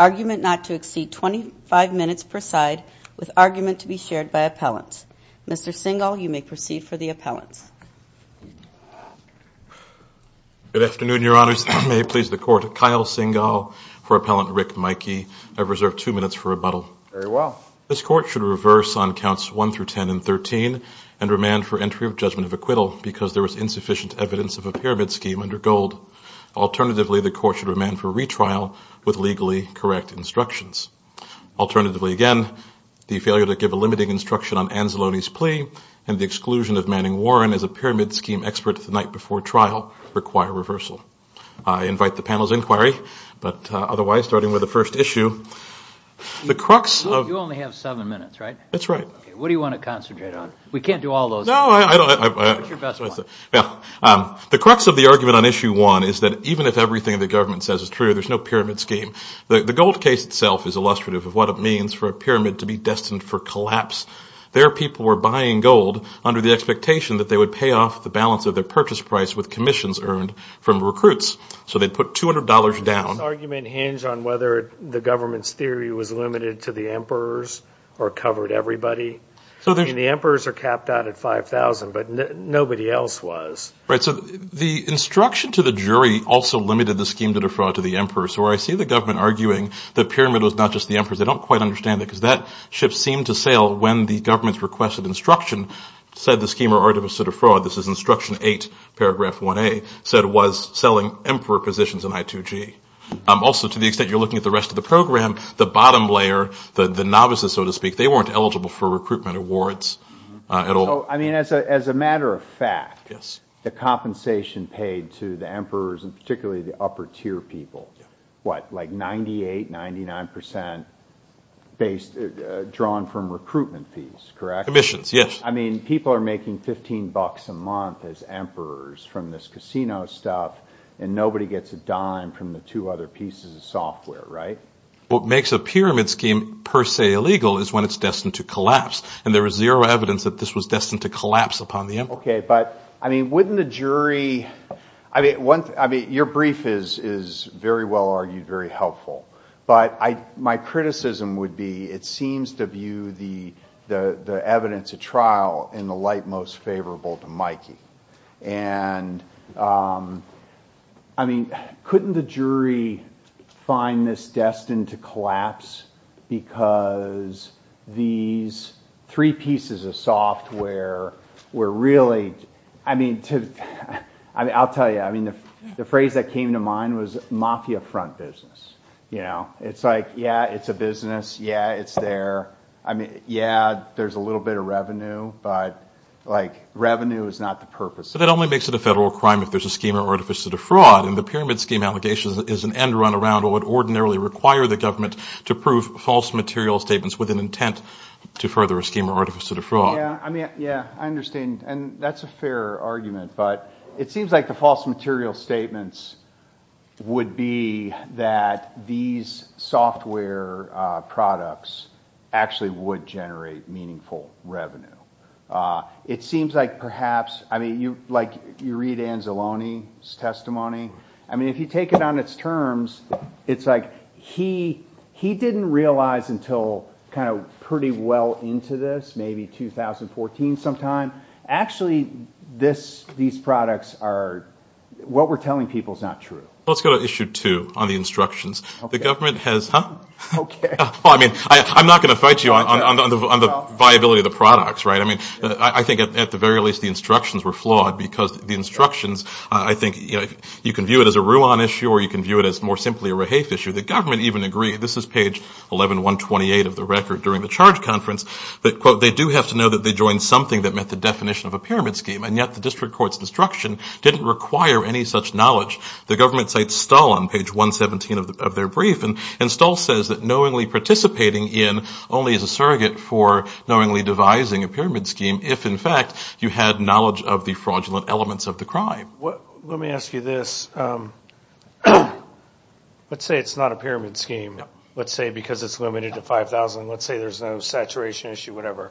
Argument not to exceed 25 minutes per side, with argument to be shared by appellants. Mr. Singal, you may proceed for the appellant. Good afternoon, Your Honors. May it please the Court, Kyle Singal for Appellant Rick Maike. I have reserved two minutes for rebuttal. Very well. This Court should reverse on Counts 1 through 10 and 13, and remand for entry of Judgment of Acquittal, because there is insufficient evidence of a pyramid scheme under gold. Alternatively, the Court should remand for retrial with legally correct instructions. Alternatively, again, the failure to give a limiting instruction on Anzalone's plea and the exclusion of Manning Warren as a pyramid scheme expert the night before trial require reversal. I invite the panel's inquiry. But otherwise, starting with the first issue, the crux of... You only have seven minutes, right? That's right. What do you want to concentrate on? We can't do all those. The crux of the argument on Issue 1 is that even if everything the government says is true, there's no pyramid scheme. The gold case itself is illustrative of what it means for a pyramid to be destined for collapse. Their people were buying gold under the expectation that they would pay off the balance of their purchase price with commissions earned from recruits. So they put $200 down. Does this argument hinge on whether the government's theory was limited to the emperors or covered everybody? The emperors are capped out at $5,000, but nobody else was. So the instruction to the jury also limited the scheme to defraud to the emperors. So where I see the government arguing the pyramid was not just the emperors, they don't quite understand it because that ship seemed to sail when the government's request of instruction said the scheme was already a set of fraud. This is Instruction 8, Paragraph 1A, said it was selling emperor positions in I2G. Also, to the extent you're looking at the rest of the program, the bottom layer, the novices, so to speak, they weren't eligible for recruitment awards at all. I mean, as a matter of fact, the compensation paid to the emperors, and particularly the upper-tier people, what, like 98%, 99% drawn from recruitment fees, correct? Commissions, yes. I mean, people are making $15 a month as emperors from this casino stuff, and nobody gets a dime from the two other pieces of software, right? What makes a pyramid scheme per se illegal is when it's destined to collapse, and there is zero evidence that this was destined to collapse upon the emperor. Okay, but, I mean, wouldn't the jury – I mean, your brief is very well argued, very helpful, but my criticism would be it seems to view the evidence at trial in the light most favorable to Mikey. And, I mean, couldn't the jury find this destined to collapse because these three pieces of software were really – I mean, I'll tell you, I mean, the phrase that came to mind was mafia front business. You know, it's like, yeah, it's a business. Yeah, it's there. I mean, yeah, there's a little bit of revenue, but, like, revenue is not the purpose. But that only makes it a federal crime if there's a scheme of artificial defraud, and the pyramid scheme allegation is an end-run-around of what ordinarily requires the government to prove false material statements with an intent to further a scheme of artificial defraud. Yeah, I mean, yeah, I understand, and that's a fair argument, but it seems like the false material statements would be that these software products actually would generate meaningful revenue. It seems like perhaps – I mean, you read Anzalone's testimony. I mean, if you take it on its terms, it's like he didn't realize until kind of pretty well into this, maybe 2014 sometime. Actually, these products are – what we're telling people is not true. Let's go to issue two on the instructions. The government has – I mean, I'm not going to fight you on the viability of the products. I mean, I think at the very least the instructions were flawed because the instructions – I think you can view it as a Ruan issue, or you can view it as more simply a Rahafe issue. This is page 11-128 of the record during the charge conference that, quote, they do have to know that they joined something that met the definition of a pyramid scheme, and yet the district court's instruction didn't require any such knowledge. The government cites Stull on page 117 of their brief, and Stull says that knowingly participating in only as a surrogate for knowingly devising a pyramid scheme if, in fact, you had knowledge of the fraudulent elements of the crime. Let me ask you this. Let's say it's not a pyramid scheme. Let's say because it's limited to 5,000, let's say there's a saturation issue, whatever.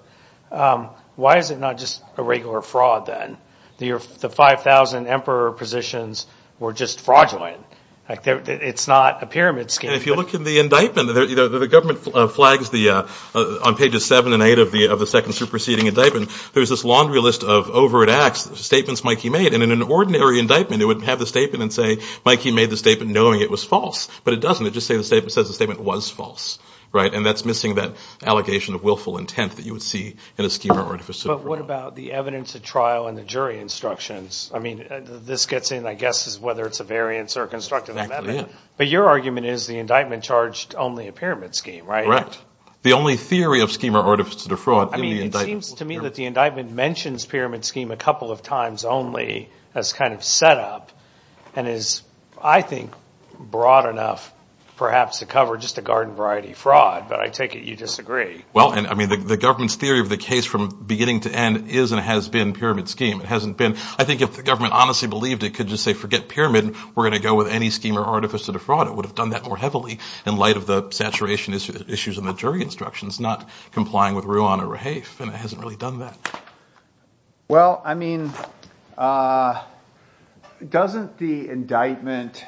Why is it not just a regular fraud then? The 5,000 emperor positions were just fraudulent. It's not a pyramid scheme. If you look in the indictment, the government flags on pages seven and eight of the second superseding indictment, there's this laundry list of overt acts, statements Mikey made, and in an ordinary indictment it would have the statement and say Mikey made the statement knowing it was false, but it doesn't. It just says the statement was false, right? And that's missing that allegation of willful intent that you would see in a schema-artificer fraud. But what about the evidence at trial and the jury instructions? I mean, this gets in, I guess, whether it's a variance or a constructive evidence, but your argument is the indictment charged only a pyramid scheme, right? Correct. The only theory of schema-artificer fraud is the indictment. It seems to me that the indictment mentions pyramid scheme a couple of times only as kind of set up and is, I think, broad enough perhaps to cover just a garden variety fraud, but I take it you disagree. Well, I mean, the government's theory of the case from beginning to end is and has been pyramid scheme. I think if the government honestly believed it could just say forget pyramid, we're going to go with any schema-artificer fraud, it would have done that more heavily in light of the saturation issues in the jury instructions, not complying with Rouen or Rahafe, and it hasn't really done that. Well, I mean, doesn't the indictment,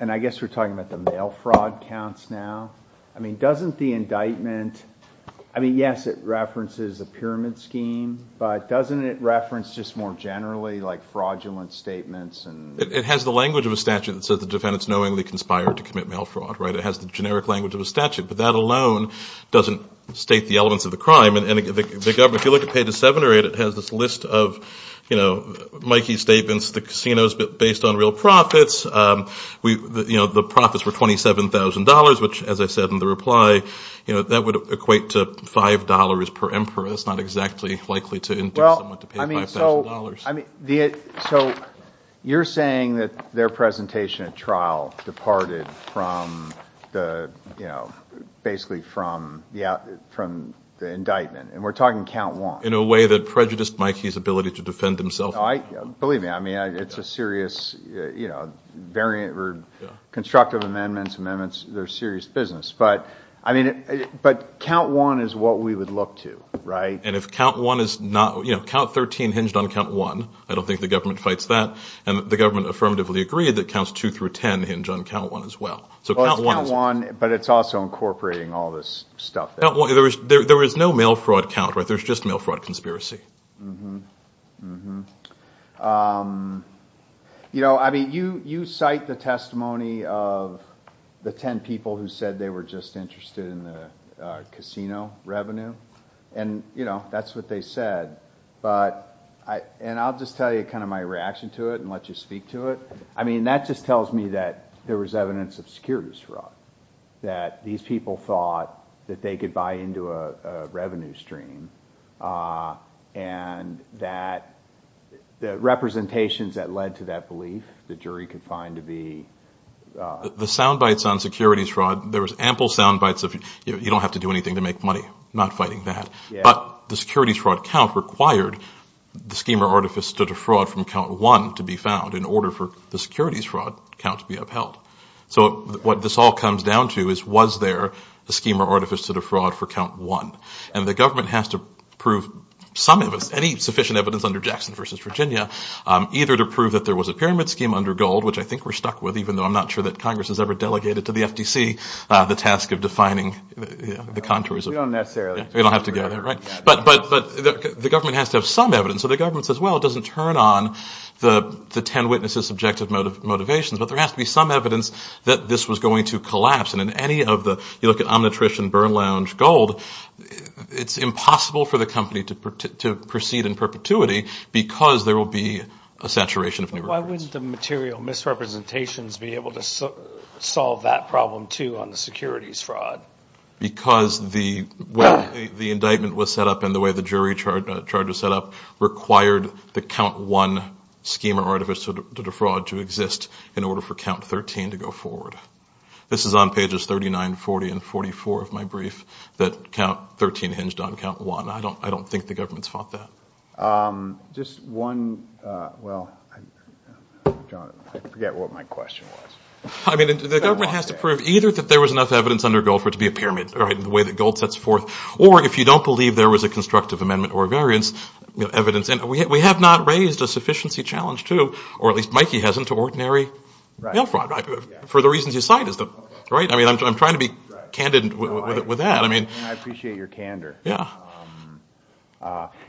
and I guess we're talking about the mail fraud counts now. I mean, doesn't the indictment, I mean, yes, it references the pyramid scheme, but doesn't it reference just more generally, like fraudulent statements? It has the language of a statute that says the defendant's knowingly conspired to commit mail fraud, right? It has the generic language of a statute, but that alone doesn't state the elements of the crime, and the government, if you look at page seven or eight, it has this list of Mikey's statements, the casino's based on real profits, the profits were $27,000, which, as I said in the reply, that would equate to $5 per emperor. It's not exactly likely to indicate they want to pay $5,000. I mean, so you're saying that their presentation at trial departed from the, you know, basically from the indictment, and we're talking count one. In a way that prejudiced Mikey's ability to defend himself. Believe me, I mean, it's a serious, you know, variant or constructive amendments, amendments, they're serious business, but, I mean, but count one is what we would look to, right? And if count one is not, you know, count 13 hinged on count one, I don't think the government fights that, and the government affirmatively agreed that counts two through ten hinge on count one as well. So count one is... Count one, but it's also incorporating all this stuff. There is no mail fraud count, right? There's just mail fraud conspiracy. You know, I mean, you cite the testimony of the ten people who said they were just interested in the casino revenue, and, you know, that's what they said, but, and I'll just tell you kind of my reaction to it and let you speak to it. I mean, that just tells me that there was evidence of security fraud, that these people thought that they could buy into a revenue stream, and that the representations that led to that belief, the jury could find to be... The sound bites on securities fraud, there was ample sound bites of, you know, you don't have to do anything to make money, not fighting that, but the securities fraud count required the schema artifice to defraud from count one to be found in order for the securities fraud count to be upheld. So what this all comes down to is was there a schema artifice to defraud for count one, and the government has to prove some of it, any sufficient evidence under Jackson versus Virginia, either to prove that there was a pyramid scheme under gold, which I think we're stuck with, even though I'm not sure that Congress has ever delegated to the FTC the task of defining the contours of... We don't necessarily. We don't have to get it, right? But the government has to have some evidence, so the government says, well, it doesn't turn on the ten witnesses' subjective motivations, but there has to be some evidence that this was going to collapse, and in any of the, you look at unattrition, burn lounge, gold, it's impossible for the company to proceed in perpetuity because there will be a saturation of... Why wouldn't the material misrepresentations be able to solve that problem, too, on the securities fraud? Because the way the indictment was set up and the way the jury charges set up required the count one schema artifice to defraud to exist in order for count 13 to go forward. This is on pages 39, 40, and 44 of my brief that count 13 hinged on count one. I don't think the government's thought that. Just one, well, I forget what my question was. I mean, the government has to prove either that there was enough evidence under gold for it to be a pyramid, the way that gold sets forth, or if you don't believe there was a constructive amendment or a variance, evidence. And we have not raised a sufficiency challenge to, or at least Mikey hasn't, for the reasons you cited. I'm trying to be candid with that. I appreciate your candor.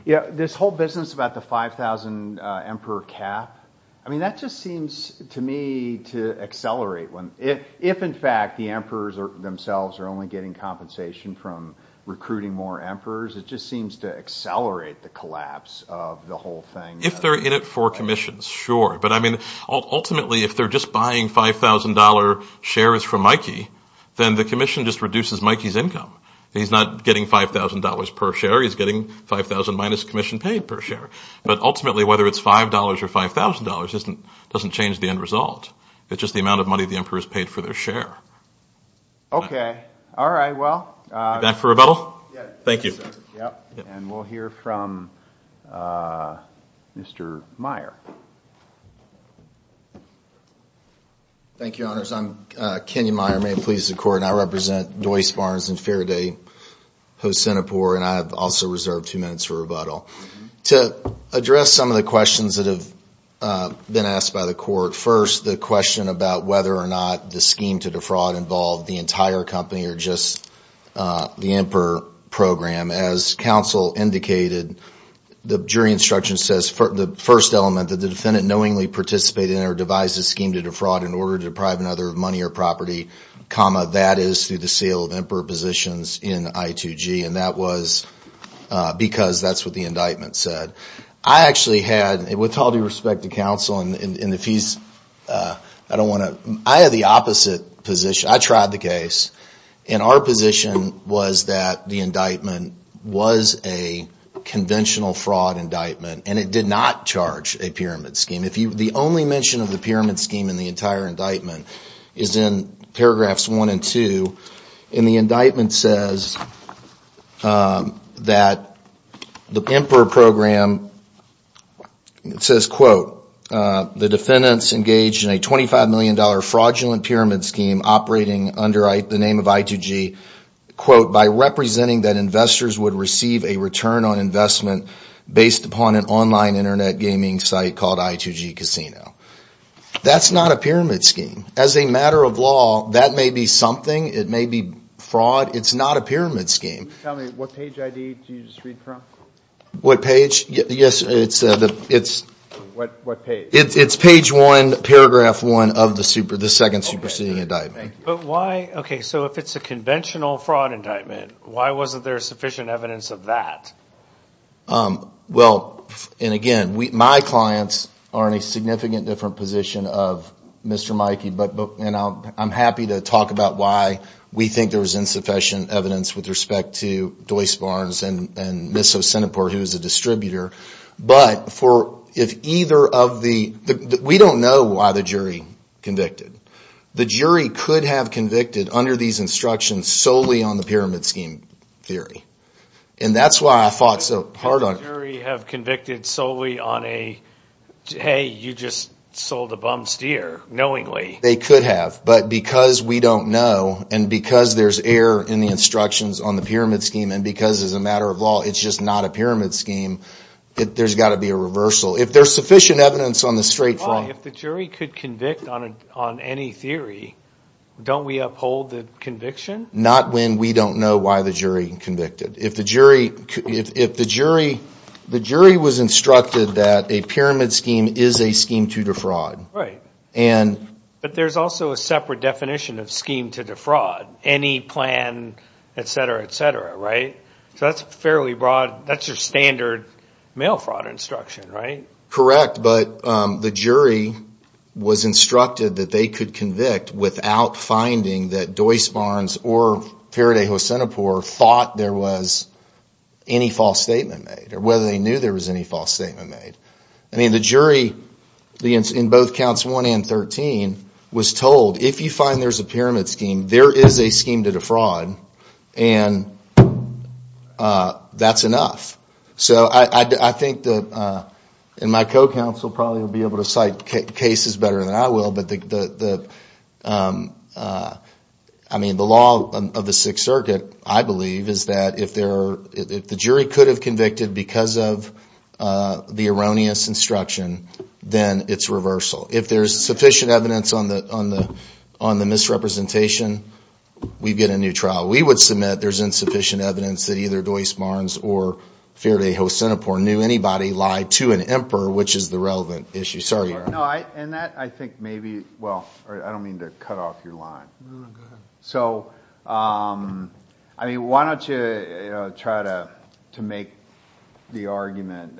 This whole business about the 5,000 emperor cap, I mean, that just seems to me to accelerate. If, in fact, the emperors themselves are only getting compensation from recruiting more emperors, it just seems to accelerate the collapse of the whole thing. If they're in it for commissions, sure. But, I mean, ultimately, if they're just buying $5,000 shares from Mikey, then the commission just reduces Mikey's income. He's not getting $5,000 per share. He's getting $5,000 minus commission paid per share. But, ultimately, whether it's $5 or $5,000 doesn't change the end result. It's just the amount of money the emperor's paid for their share. Okay, all right. Back for rebuttal? Yes. Thank you. We'll hear from Mr. Meyer. Thank you, Your Honors. I'm Kenny Meyer, Maine Police and Court, and I represent Joyce Barnes and Faraday Hosinapur, and I have also reserved two minutes for rebuttal. To address some of the questions that have been asked by the court, first the question about whether or not the scheme to defraud involved the entire company or just the emperor program. As counsel indicated, the jury instruction says, the first element that the defendant knowingly participated in or devised a scheme to defraud in order to deprive another of money or property, comma, that is through the sale of emperor positions in I2G, and that was because that's what the indictment said. I actually had, with all due respect to counsel and the fees, I have the opposite position. I tried the case, and our position was that the indictment was a conventional fraud indictment, and it did not charge a pyramid scheme. The only mention of the pyramid scheme in the entire indictment is in paragraphs one and two, and the indictment says that the emperor program says, quote, the defendants engaged in a $25 million fraudulent pyramid scheme operating under the name of I2G, quote, by representing that investors would receive a return on investment based upon an online Internet gaming site called I2G Casino. That's not a pyramid scheme. As a matter of law, that may be something. It may be fraud. It's not a pyramid scheme. Can you tell me what page ID you just read from? What page? Yes, it's page one, paragraph one of the second superseding indictment. Okay, so if it's a conventional fraud indictment, why wasn't there sufficient evidence of that? Well, and again, my clients are in a significant different position of Mr. Mikey, and I'm happy to talk about why we think there's insufficient evidence with respect to Joyce Barnes and Mr. Centiport, who is the distributor. But we don't know why the jury convicted. The jury could have convicted under these instructions solely on the pyramid scheme theory, and that's why I fought so hard on it. Could the jury have convicted solely on a, hey, you just sold a bum steer knowingly? They could have, but because we don't know and because there's error in the instructions on the pyramid scheme and because, as a matter of law, it's just not a pyramid scheme, there's got to be a reversal. If there's sufficient evidence on the straight line Well, if the jury could convict on any theory, don't we uphold the conviction? Not when we don't know why the jury convicted. If the jury was instructed that a pyramid scheme is a scheme to defraud. But there's also a separate definition of scheme to defraud. Any plan, etc., etc., right? So that's fairly broad. That's your standard mail fraud instruction, right? Correct, but the jury was instructed that they could convict without finding that Joyce Barnes or Faraday or Centiport thought there was any false statement made or whether they knew there was any false statement made. I mean, the jury in both counts 1 and 13 was told, if you find there's a pyramid scheme, there is a scheme to defraud, and that's enough. So I think that, and my co-counsel probably will be able to cite cases better than I will, but the law of the Sixth Circuit, I believe, is that if the jury could have convicted because of the erroneous instruction, then it's reversal. If there's sufficient evidence on the misrepresentation, we get a new trial. We would submit there's insufficient evidence that either Joyce Barnes or Faraday or Centiport knew anybody lied to an emperor, which is the relevant issue. Sorry. And that, I think, maybe, well, I don't mean to cut off your line. So, I mean, why don't you try to make the argument,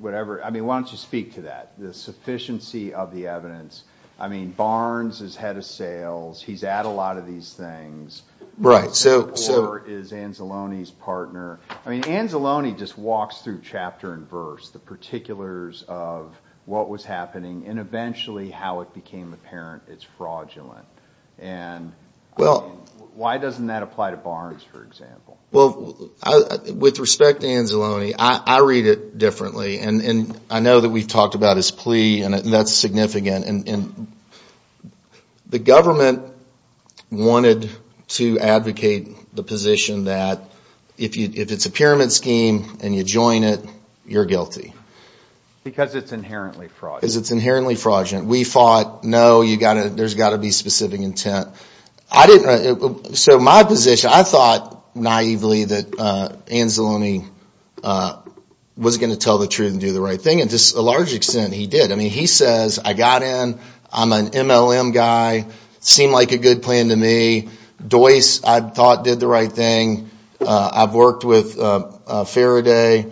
whatever. I mean, why don't you speak to that, the sufficiency of the evidence. I mean, Barnes is head of sales. He's at a lot of these things. Right. Or is Anzalone's partner. I mean, Anzalone just walks through chapter and verse, the particulars of what was happening and eventually how it became apparent it's fraudulent. And why doesn't that apply to Barnes, for example? Well, with respect to Anzalone, I read it differently. And I know that we've talked about his plea, and that's significant. And the government wanted to advocate the position that if it's a pyramid scheme and you join it, you're guilty. Because it's inherently fraudulent. Because it's inherently fraudulent. We thought, no, there's got to be specific intent. So my position, I thought naively that Anzalone was going to tell the truth and do the right thing. And to a large extent, he did. I mean, he says, I got in, I'm an MLM guy, seemed like a good plan to me. Dois, I thought, did the right thing. I've worked with Faraday.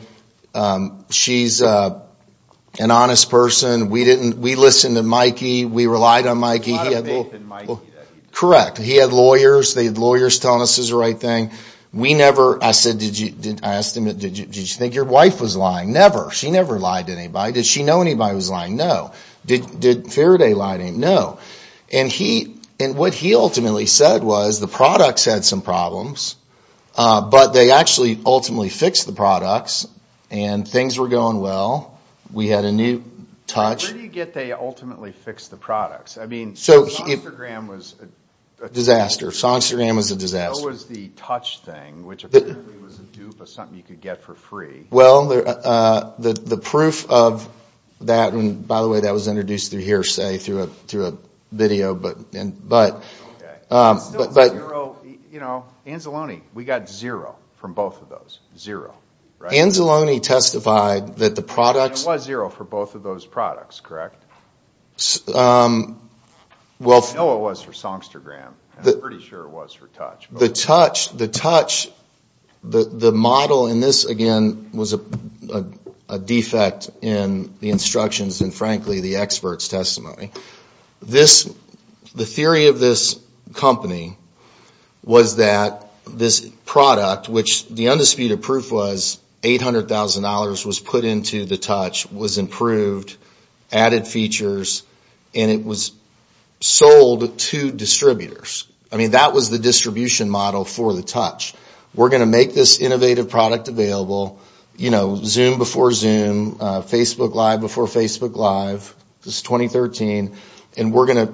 She's an honest person. We listened to Mikey. We relied on Mikey. A lot of faith in Mikey. Correct. He had lawyers. They had lawyers telling us it was the right thing. I asked him, did you think your wife was lying? Never. She never lied to anybody. Did she know anybody was lying? No. Did Faraday lie to him? No. And what he ultimately said was the products had some problems, but they actually ultimately fixed the products, and things were going well. We had a new touch. Where do you get they ultimately fixed the products? I mean, Songstagram was a disaster. Songstagram was a disaster. So was the touch thing, which apparently was a dupe of something you could get for free. Well, the proof of that, and by the way, that was introduced through hearsay through a video. But Anzalone, we got zero from both of those. Zero. Anzalone testified that the products- It was zero for both of those products, correct? I know it was for Songstagram. I'm pretty sure it was for touch. The touch, the model in this, again, was a defect in the instructions and, frankly, the experts' testimony. The theory of this company was that this product, which the undisputed proof was $800,000 was put into the touch, was improved, added features, and it was sold to distributors. I mean, that was the distribution model for the touch. We're going to make this innovative product available, you know, Zoom before Zoom, Facebook Live before Facebook Live. This is 2013, and we're going to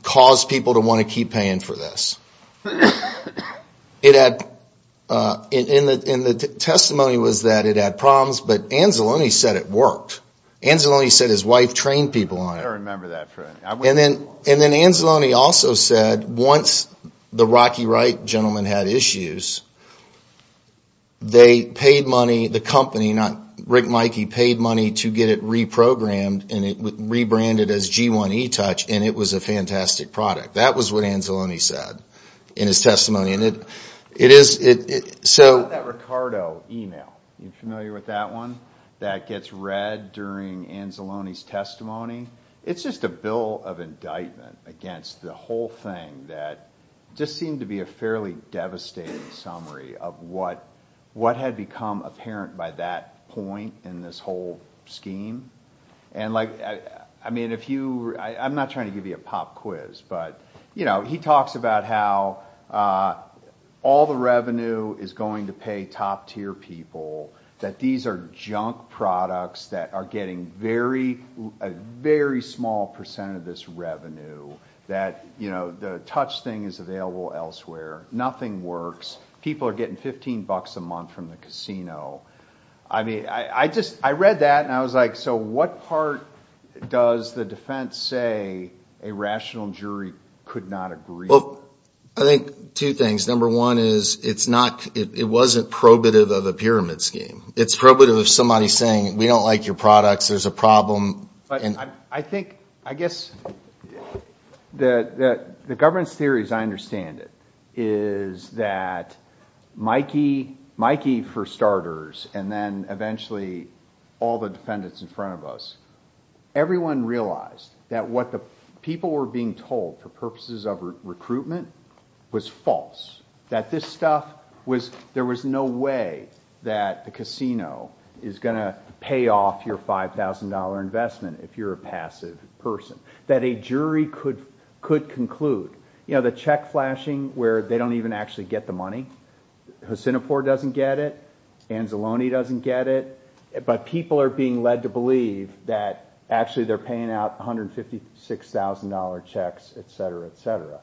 cause people to want to keep paying for this. And the testimony was that it had problems, but Anzalone said it worked. Anzalone said his wife trained people on it. I remember that. And then Anzalone also said once the Rocky Wright gentleman had issues, they paid money, the company, not Rick and Mikey, paid money to get it reprogrammed and it was rebranded as G1 eTouch, and it was a fantastic product. That was what Anzalone said in his testimony, and it is- How about that Ricardo email? Are you familiar with that one that gets read during Anzalone's testimony? It's just a bill of indictment against the whole thing that just seemed to be a fairly devastating summary of what had become apparent by that point in this whole scheme. And, like, I mean, if you-I'm not trying to give you a pop quiz, but, you know, he talks about how all the revenue is going to pay top-tier people, that these are junk products that are getting a very small percent of this revenue, that, you know, the Touch thing is available elsewhere. Nothing works. People are getting $15 a month from the casino. I mean, I just-I read that and I was like, so what part does the defense say a rational jury could not agree to? Well, I think two things. Number one is it's not-it wasn't probative of a pyramid scheme. It's probative of somebody saying we don't like your products, there's a problem. I think-I guess the governance theory as I understand it is that Mikey, for starters, and then eventually all the defendants in front of us, everyone realized that what the people were being told for purposes of recruitment was false, that this stuff was-there was no way that the casino is going to pay off your $5,000 investment if you're a passive person, that a jury could conclude, you know, the check flashing where they don't even actually get the money. Hacinopore doesn't get it. Anzalone doesn't get it. But people are being led to believe that actually they're paying out $156,000 checks, etc., etc.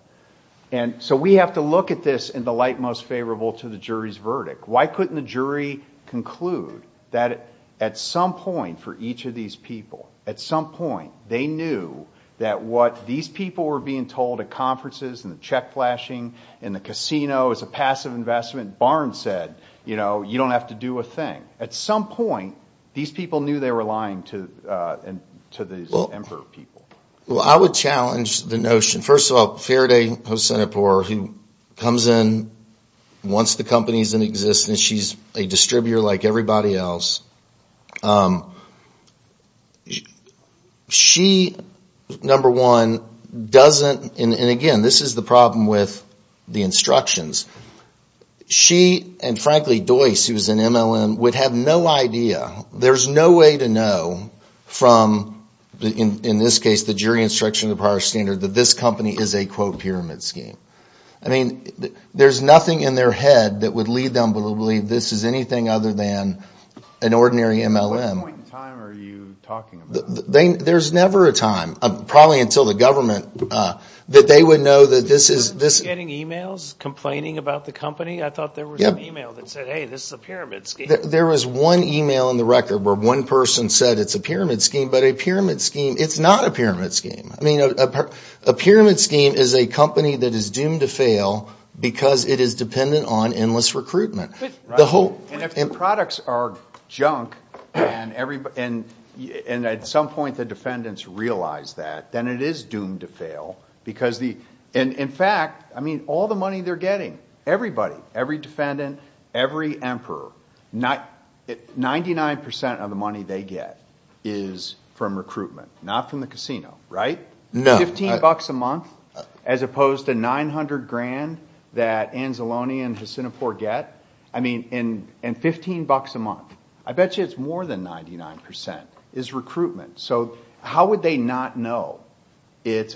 And so we have to look at this in the light most favorable to the jury's verdict. Why couldn't the jury conclude that at some point for each of these people, at some point they knew that what these people were being told at conferences and the check flashing and the casino as a passive investment, Barnes said, you know, you don't have to do a thing. At some point, these people knew they were lying to these Denver people. Well, I would challenge the notion. First of all, Faraday Hacinopore, who comes in, wants the companies in existence. She's a distributor like everybody else. She, number one, doesn't-and again, this is the problem with the instructions. She and, frankly, Dois, who's an MLM, would have no idea, there's no way to know from, in this case, the jury instruction of the prior standard that this company is a, quote, pyramid scheme. I mean, there's nothing in their head that would lead them to believe this is anything other than an ordinary MLM. What point in time are you talking about? There's never a time, probably until the government, that they would know that this is- Were you getting e-mails complaining about the company? I thought there was an e-mail that said, hey, this is a pyramid scheme. There was one e-mail in the record where one person said it's a pyramid scheme, but a pyramid scheme-it's not a pyramid scheme. I mean, a pyramid scheme is a company that is doomed to fail because it is dependent on endless recruitment. And if the products are junk and at some point the defendants realize that, then it is doomed to fail because the- And in fact, I mean, all the money they're getting, everybody, every defendant, every emperor, 99% of the money they get is from recruitment, not from the casino, right? No. Fifteen bucks a month, as opposed to 900 grand that Anzalone and Hacinafor get. I mean, and 15 bucks a month. I bet you it's more than 99% is recruitment. So how would they not know?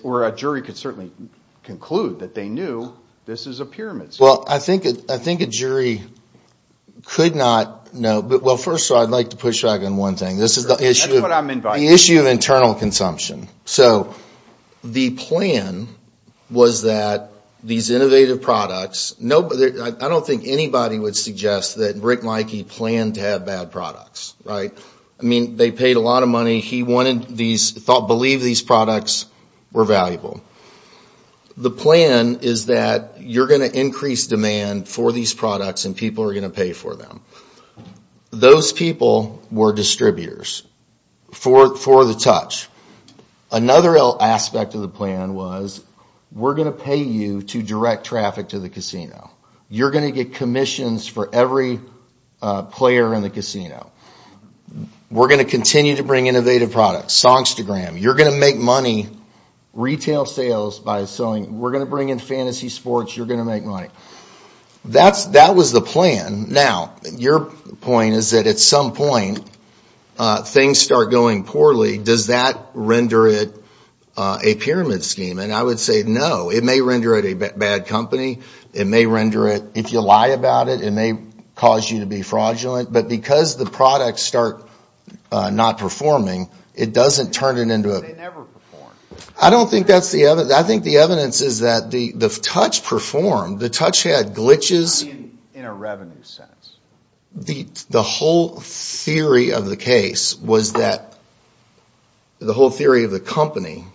Or a jury could certainly conclude that they knew this is a pyramid scheme. Well, I think a jury could not know. Well, first, I'd like to push back on one thing. Sure. That's what I meant by that. The issue of internal consumption. So the plan was that these innovative products-I don't think anybody would suggest that Rick Mikey planned to have bad products, right? I mean, they paid a lot of money. He wanted these-believed these products were valuable. The plan is that you're going to increase demand for these products and people are going to pay for them. Those people were distributors for the touch. Another aspect of the plan was we're going to pay you to direct traffic to the casino. You're going to get commissions for every player in the casino. We're going to continue to bring innovative products. You're going to make money, retail sales by selling. We're going to bring in fantasy sports. You're going to make money. That was the plan. Now, your point is that at some point, things start going poorly. Does that render it a pyramid scheme? I would say no. It may render it a bad company. It may render it-if you lie about it, it may cause you to be fraudulent. But because the products start not performing, it doesn't turn it into a- They never perform. I don't think that's the evidence. I think the evidence is that the touch performed. The touch had glitches. In a revenue sense. The whole theory of the case was that-the whole theory of the company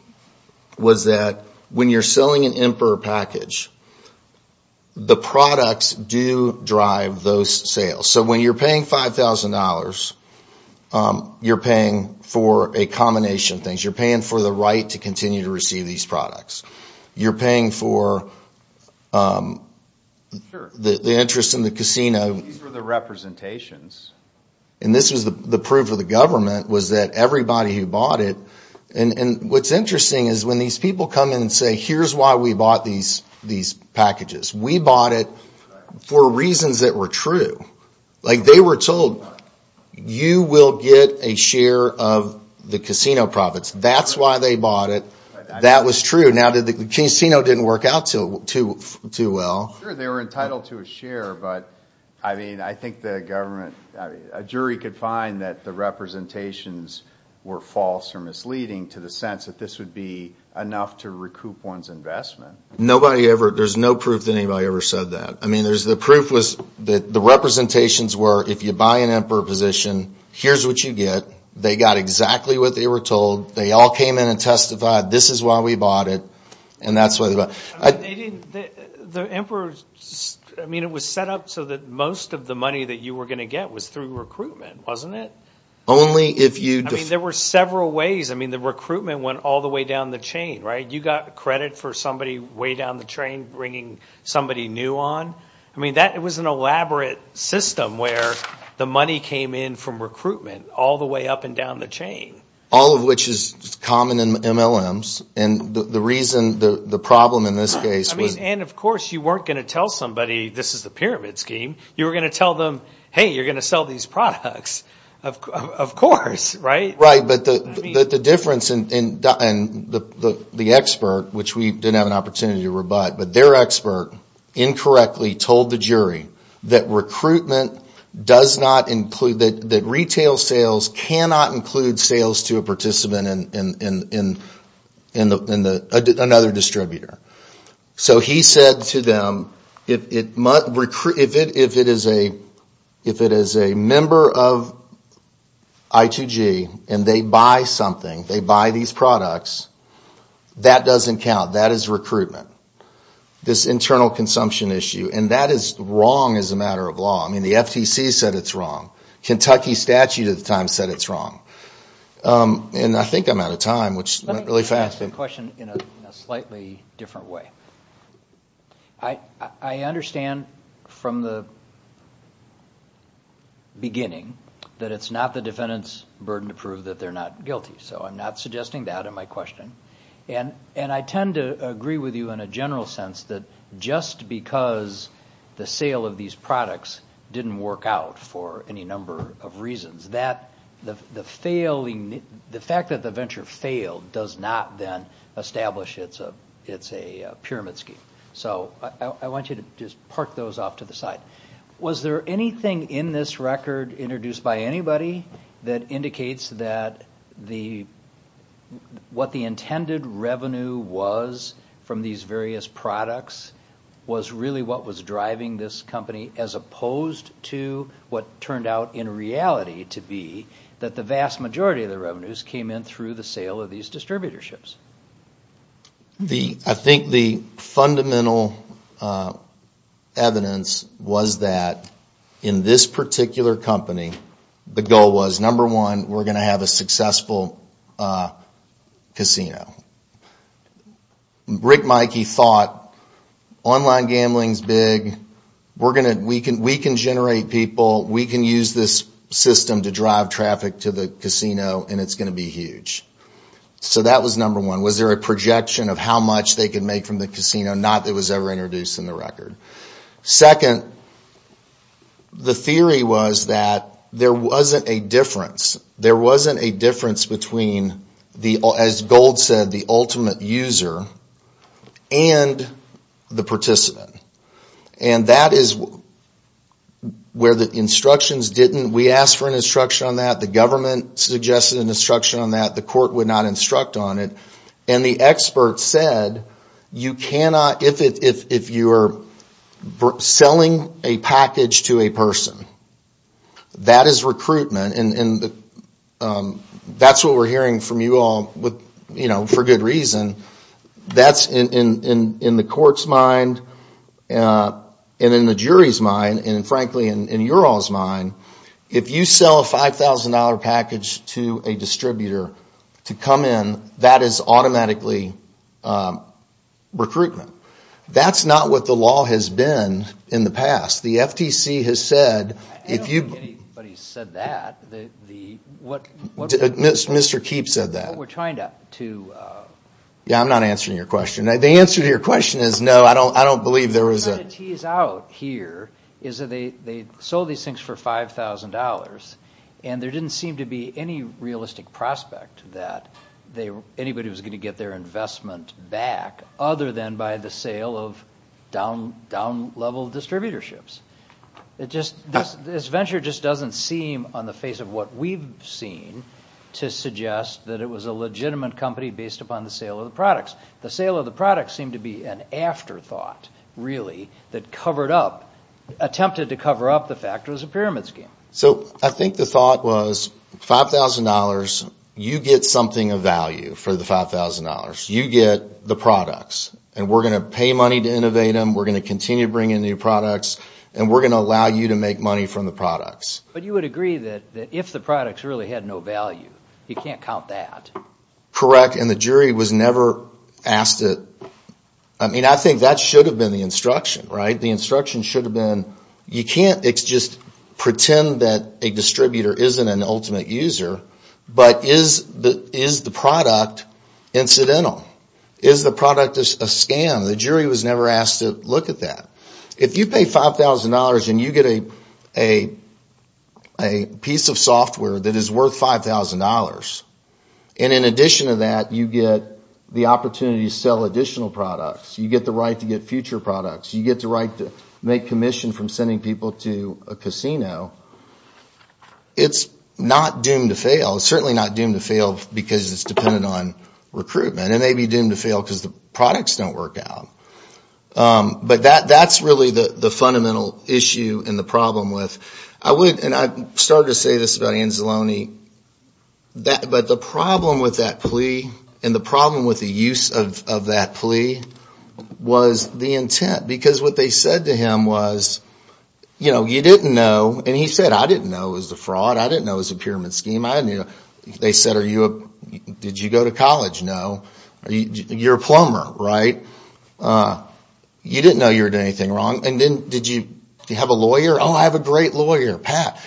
was that when you're selling an importer package, the products do drive those sales. So when you're paying $5,000, you're paying for a combination of things. You're paying for the right to continue to receive these products. You're paying for the interest in the casino. These were the representations. This was the proof of the government was that everybody who bought it- and what's interesting is when these people come in and say, here's why we bought these packages. We bought it for reasons that were true. They were told, you will get a share of the casino profits. That's why they bought it. That was true. Now, the casino didn't work out too well. Sure, they were entitled to a share, but I think the government- a jury could find that the representations were false or misleading to the sense that this would be enough to recoup one's investment. There's no proof that anybody ever said that. The proof was that the representations were, if you buy an importer position, here's what you get. They got exactly what they were told. They all came in and testified, this is why we bought it. The emperor was set up so that most of the money that you were going to get was through recruitment, wasn't it? Only if you- There were several ways. The recruitment went all the way down the chain. You got credit for somebody way down the chain bringing somebody new on. It was an elaborate system where the money came in from recruitment all the way up and down the chain. All of which is common in MLMs. The reason the problem in this case was- Of course, you weren't going to tell somebody this is a pyramid scheme. You were going to tell them, hey, you're going to sell these products. Of course, right? Right, but the difference in the expert, which we didn't have an opportunity to rebut, but their expert incorrectly told the jury that recruitment does not include- Another distributor. He said to them, if it is a member of ITG and they buy something, they buy these products, that doesn't count. That is recruitment. This internal consumption issue. That is wrong as a matter of law. The FCC said it's wrong. Kentucky statute at the time said it's wrong. I think I'm out of time. Let me ask you a question in a slightly different way. I understand from the beginning that it's not the defendant's burden to prove that they're not guilty. I'm not suggesting that in my question. I tend to agree with you in a general sense that just because the sale of these products didn't work out for any number of reasons, the fact that the venture failed does not then establish it's a pyramid scheme. I want you to just park those off to the side. Was there anything in this record introduced by anybody that indicates that what the intended revenue was from these various products was really what was driving this company as opposed to what turned out in reality to be that the vast majority of the revenues came in through the sale of these distributorships? I think the fundamental evidence was that in this particular company, the goal was number one, we're going to have a successful casino. Rick Mikey thought online gambling is big, we can generate people, we can use this system to drive traffic to the casino, and it's going to be huge. So that was number one. Was there a projection of how much they could make from the casino? Not that it was ever introduced in the record. Second, the theory was that there wasn't a difference. There was a difference between, as Gold said, the ultimate user and the participant. And that is where the instructions didn't, we asked for an instruction on that, the government suggested an instruction on that, the court would not instruct on it, and the expert said you cannot, if you are selling a package to a person, that is recruitment, and that's what we're hearing from you all for good reason. That's in the court's mind, and in the jury's mind, and frankly in your all's mind, if you sell a $5,000 package to a distributor to come in, that is automatically recruitment. That's not what the law has been in the past. I don't think anybody said that. Mr. Keefe said that. What we're trying to... Yeah, I'm not answering your question. The answer to your question is no, I don't believe there was a... What we're trying to tease out here is that they sold these things for $5,000, and there didn't seem to be any realistic prospect that anybody was going to get their investment back, other than by the sale of down-level distributorships. This venture just doesn't seem, on the face of what we've seen, to suggest that it was a legitimate company based upon the sale of the products. The sale of the products seemed to be an afterthought, really, that attempted to cover up the fact it was a pyramid scheme. So I think the thought was $5,000, you get something of value for the $5,000. You get the products, and we're going to pay money to innovate them, we're going to continue to bring in new products, and we're going to allow you to make money from the products. But you would agree that if the products really had no value, you can't count that. Correct, and the jury was never asked it. I mean, I think that should have been the instruction, right? The instruction should have been, you can't just pretend that a distributor isn't an ultimate user, but is the product incidental? Is the product a scam? The jury was never asked to look at that. If you pay $5,000 and you get a piece of software that is worth $5,000, and in addition to that you get the opportunity to sell additional products, you get the right to get future products, you get the right to make commission from sending people to a casino, it's not doomed to fail. It's certainly not doomed to fail because it's dependent on recruitment. It may be doomed to fail because the products don't work out. But that's really the fundamental issue and the problem with it. I started to say this about Anzalone, but the problem with that plea and the problem with the use of that plea was the intent. Because what they said to him was, you know, you didn't know, and he said, I didn't know it was a fraud, I didn't know it was a pyramid scheme. They said, did you go to college? No. You're a plumber, right? You didn't know you were doing anything wrong. And then did you have a lawyer? Oh, I have a great lawyer, Pat.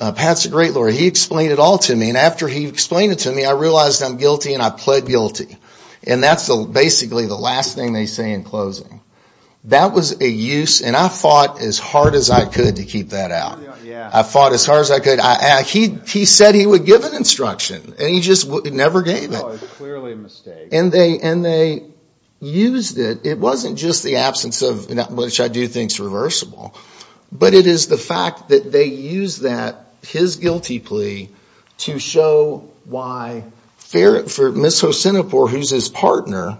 Pat's a great lawyer. He explained it all to me, and after he explained it to me, I realized I'm guilty and I pled guilty. And that's basically the last thing they say in closing. That was a use, and I fought as hard as I could to keep that out. I fought as hard as I could. He said he would give an instruction, and he just never did. It was clearly a mistake. And they used it. It wasn't just the absence of, which I do think is reversible, But it is the fact that they used that, his guilty plea, to show why Ms. Hosenapore, who's his partner,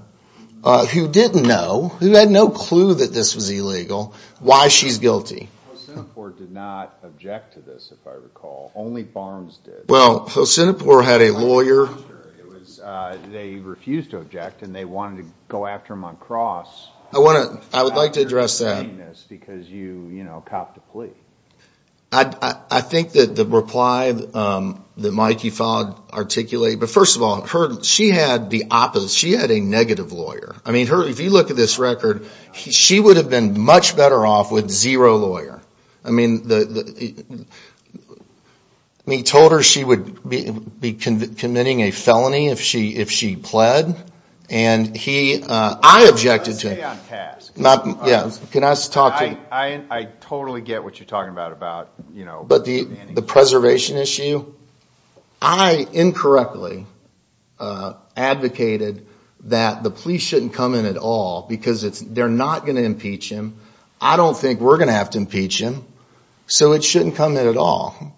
who didn't know, who had no clue that this was illegal, why she's guilty. Hosenapore did not object to this, if I recall. Only Barnes did. Well, Hosenapore had a lawyer. They refused to object, and they wanted to go after him on cross. I would like to address that. You're saying this because you copped the plea. I think that the reply that Mikey Fogg articulated, but first of all, she had the opposite. She had a negative lawyer. I mean, if you look at this record, she would have been much better off with zero lawyer. I mean, he told her she would be committing a felony if she pled, and I objected to it. I totally get what you're talking about. But the preservation issue, I incorrectly advocated that the police shouldn't come in at all, because they're not going to impeach him. I don't think we're going to have to impeach him, so it shouldn't come in at all.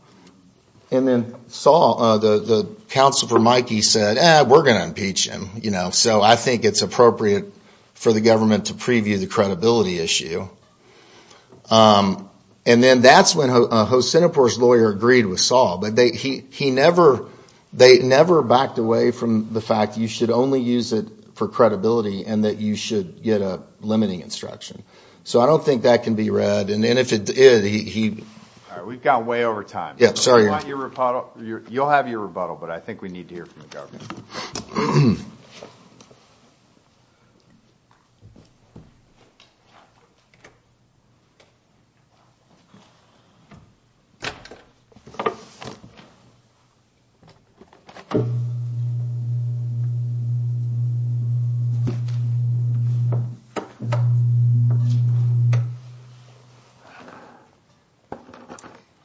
And then the counsel for Mikey said, eh, we're going to impeach him. So I think it's appropriate for the government to preview the credibility issue. And then that's when Hosenapore's lawyer agreed with Saul, but they never backed away from the fact you should only use it for credibility and that you should get a limiting instruction. So I don't think that can be read. We've gone way over time. You'll have your rebuttal, but I think we need to hear from the government.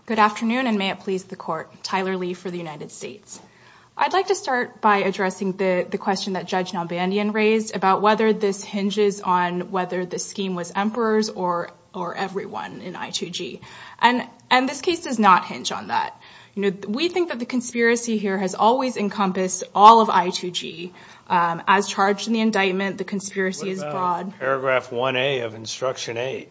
Good afternoon, and may it please the Court. Tyler Lee for the United States. I'd like to start by addressing the question that Judge Nalbandian raised about whether this hinges on whether the scheme was emperors or everyone in I2G. And this case does not hinge on that. We think that the conspiracy theory is that the government is trying to make it look like has always encompassed all of I2G. As charged in the indictment, the conspiracy is flawed. What about paragraph 1A of instruction 8?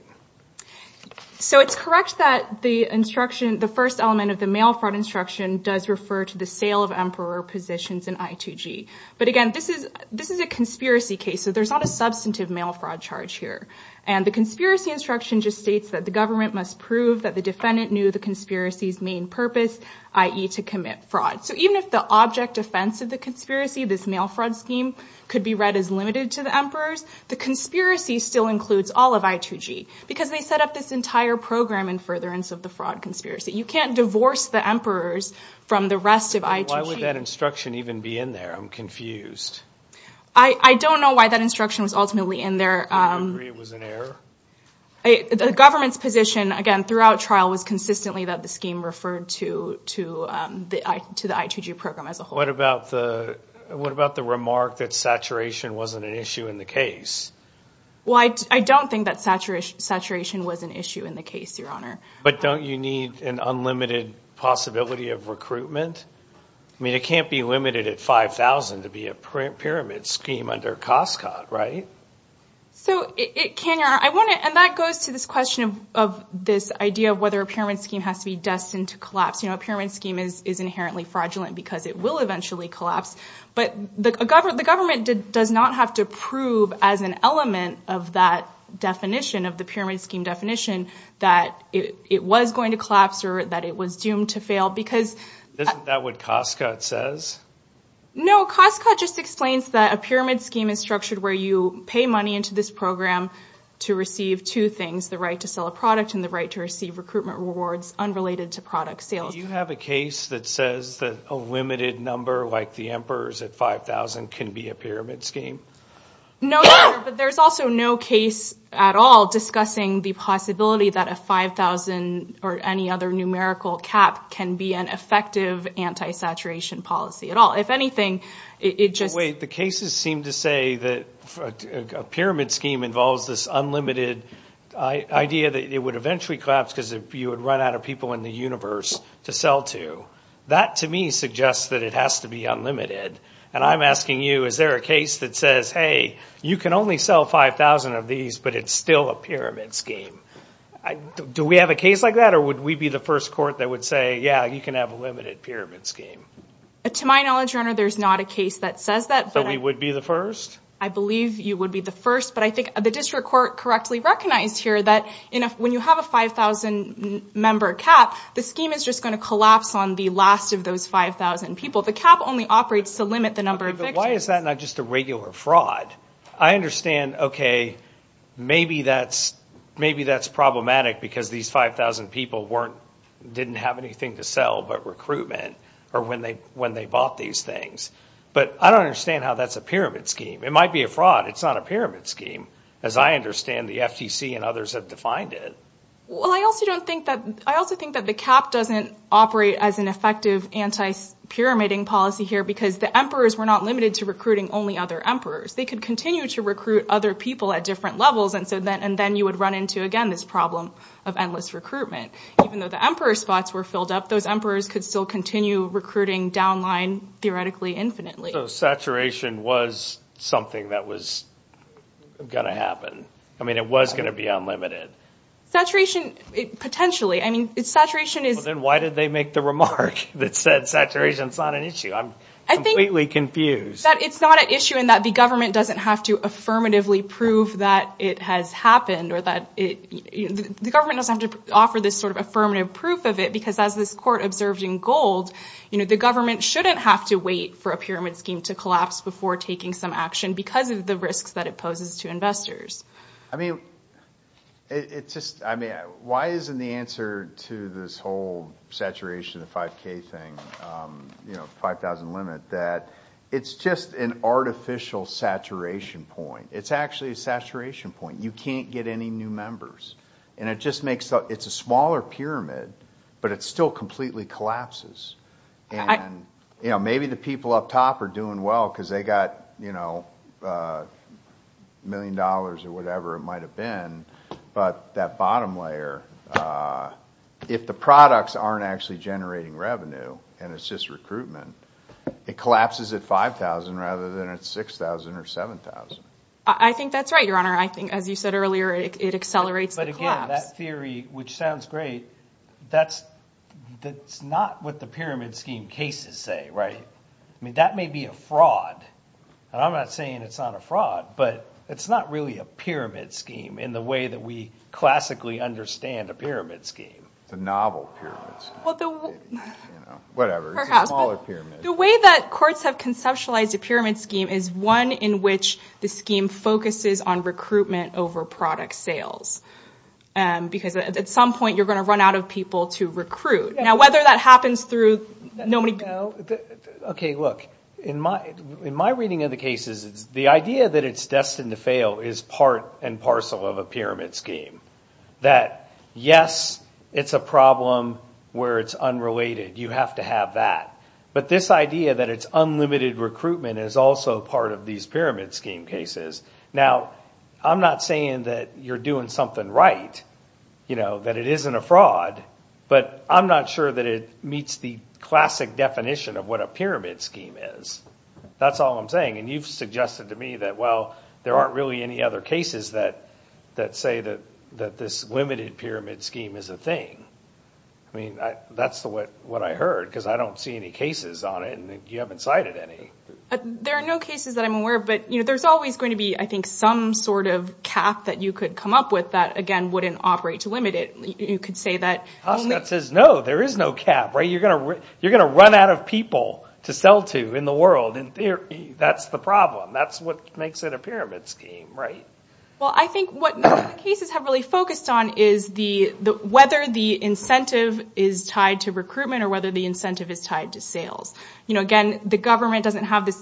So it's correct that the first element of the mail fraud instruction does refer to the sale of emperor positions in I2G. But again, this is a conspiracy case, so there's not a substantive mail fraud charge here. And the conspiracy instruction just states that the government must prove that the defendant knew the conspiracy's main purpose, i.e., to commit fraud. So even if the object offense of the conspiracy, this mail fraud scheme, could be read as limited to the emperors, the conspiracy still includes all of I2G because they set up this entire program in furtherance of the fraud conspiracy. You can't divorce the emperors from the rest of I2G. Why would that instruction even be in there? I'm confused. I don't know why that instruction was ultimately in there. Do you agree it was an error? The government's position, again, throughout trial, was consistently that the scheme referred to the I2G program as a whole. What about the remark that saturation wasn't an issue in the case? Well, I don't think that saturation was an issue in the case, Your Honor. But don't you need an unlimited possibility of recruitment? I mean, it can't be limited at $5,000 to be a pyramid scheme under Costco, right? So, Kanyar, and that goes to this question of this idea of whether a pyramid scheme has to be destined to collapse. You know, a pyramid scheme is inherently fraudulent because it will eventually collapse. But the government does not have to prove as an element of that definition, of the pyramid scheme definition, that it was going to collapse or that it was doomed to fail. Isn't that what Costco says? No, Costco just explains that a pyramid scheme is structured where you pay money into this program to receive two things, the right to sell a product and the right to receive recruitment rewards unrelated to product sales. Do you have a case that says that a limited number like the Emperor's at $5,000 can be a pyramid scheme? No, Your Honor, but there's also no case at all discussing the possibility that a $5,000 or any other numerical cap can be an effective anti-saturation policy at all. If anything, it just... Wait, the cases seem to say that a pyramid scheme involves this unlimited idea that it would eventually collapse because you would run out of people in the universe to sell to. That, to me, suggests that it has to be unlimited. And I'm asking you, is there a case that says, hey, you can only sell 5,000 of these, but it's still a pyramid scheme? Do we have a case like that or would we be the first court that would say, yeah, you can have a limited pyramid scheme? To my knowledge, Your Honor, there's not a case that says that. So we would be the first? I believe you would be the first, but I think the district court correctly recognized here that when you have a 5,000-member cap, the scheme is just going to collapse on the last of those 5,000 people. The cap only operates to limit the number of victims. Okay, but why is that not just a regular fraud? I understand, okay, maybe that's problematic because these 5,000 people didn't have anything to sell but recruitment or when they bought these things. But I don't understand how that's a pyramid scheme. It might be a fraud. It's not a pyramid scheme, as I understand the FTC and others have defined it. Well, I also think that the cap doesn't operate as an effective anti-pyramiding policy here because the emperors were not limited to recruiting only other emperors. They could continue to recruit other people at different levels, and then you would run into, again, this problem of endless recruitment. Even though the emperor spots were filled up, those emperors could still continue recruiting down line theoretically infinitely. So saturation was something that was going to happen. I mean, it was going to be unlimited. Potentially. Then why did they make the remark that said saturation is not an issue? I'm completely confused. It's not an issue in that the government doesn't have to affirmatively prove that it has happened. The government doesn't have to offer this sort of affirmative proof of it because as the court observed in Gold, the government shouldn't have to wait for a pyramid scheme to collapse before taking some action because of the risks that it poses to investors. I mean, why isn't the answer to this whole saturation, the 5K thing, 5,000 limit, that it's just an artificial saturation point. It's actually a saturation point. You can't get any new members. It's a smaller pyramid, but it still completely collapses. Maybe the people up top are doing well because they got a million dollars or whatever it might have been, but that bottom layer, if the products aren't actually generating revenue and it's just recruitment, it collapses at 5,000 rather than at 6,000 or 7,000. I think that's right, Your Honor. I think, as you said earlier, it accelerates the collapse. But again, that theory, which sounds great, that's not what the pyramid scheme cases say, right? I mean, that may be a fraud, and I'm not saying it's not a fraud, but it's not really a pyramid scheme in the way that we classically understand a pyramid scheme. The novel pyramid scheme. Whatever. The way that courts have conceptualized a pyramid scheme is one in which the scheme focuses on recruitment over product sales because at some point you're going to run out of people to recruit. Now, whether that happens through – Okay, look, in my reading of the cases, the idea that it's destined to fail is part and parcel of a pyramid scheme, that, yes, it's a problem where it's unrelated. You have to have that. But this idea that it's unlimited recruitment is also part of these pyramid scheme cases. Now, I'm not saying that you're doing something right, that it isn't a fraud, but I'm not sure that it meets the classic definition of what a pyramid scheme is. That's all I'm saying. And you've suggested to me that, well, there aren't really any other cases that say that this limited pyramid scheme is a thing. I mean, that's what I heard because I don't see any cases on it, and you haven't cited any. There are no cases that I'm aware of, but there's always going to be, I think, some sort of cap that you could come up with that, again, wouldn't operate to limit it. You could say that – That says, no, there is no cap. You're going to run out of people to sell to in the world. In theory, that's the problem. That's what makes it a pyramid scheme, right? Well, I think what most cases have really focused on is whether the incentive is tied to recruitment or whether the incentive is tied to sales. Again, the government doesn't have the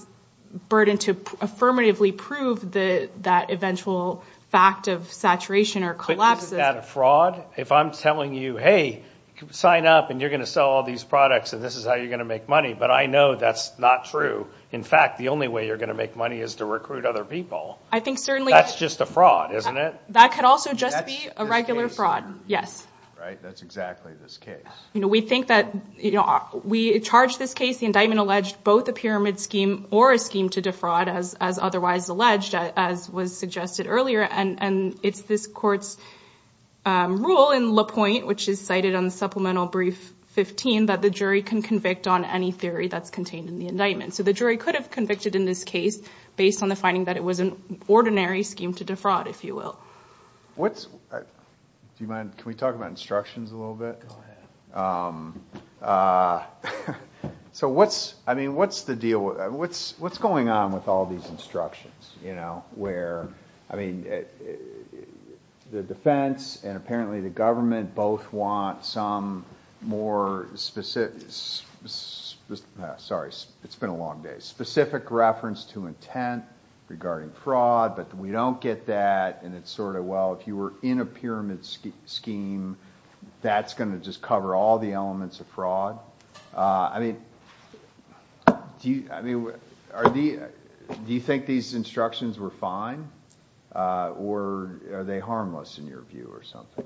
burden to affirmatively prove that eventual fact of saturation or collapse. But isn't that a fraud? If I'm telling you, hey, sign up and you're going to sell all these products and this is how you're going to make money, but I know that's not true. In fact, the only way you're going to make money is to recruit other people. I think certainly – That's just a fraud, isn't it? That could also just be a regular fraud, yes. Right, that's exactly this case. We think that – we charged this case, the indictment alleged both a pyramid scheme or a scheme to defraud as otherwise alleged, as was suggested earlier. And it's this court's rule in La Pointe, which is cited in Supplemental Brief 15, that the jury can convict on any theory that's contained in the indictment. So the jury could have convicted in this case based on the finding that it was an ordinary scheme to defraud, if you will. What's – do you mind – can we talk about instructions a little bit? Go ahead. So what's – I mean, what's the deal – what's going on with all these instructions, you know, where – and apparently the government both want some more specific – sorry, it's been a long day – specific reference to intent regarding fraud, but we don't get that. And it's sort of, well, if you were in a pyramid scheme, that's going to just cover all the elements of fraud. I mean, do you – I mean, are the – do you think these instructions were fine, or are they harmless in your view or something?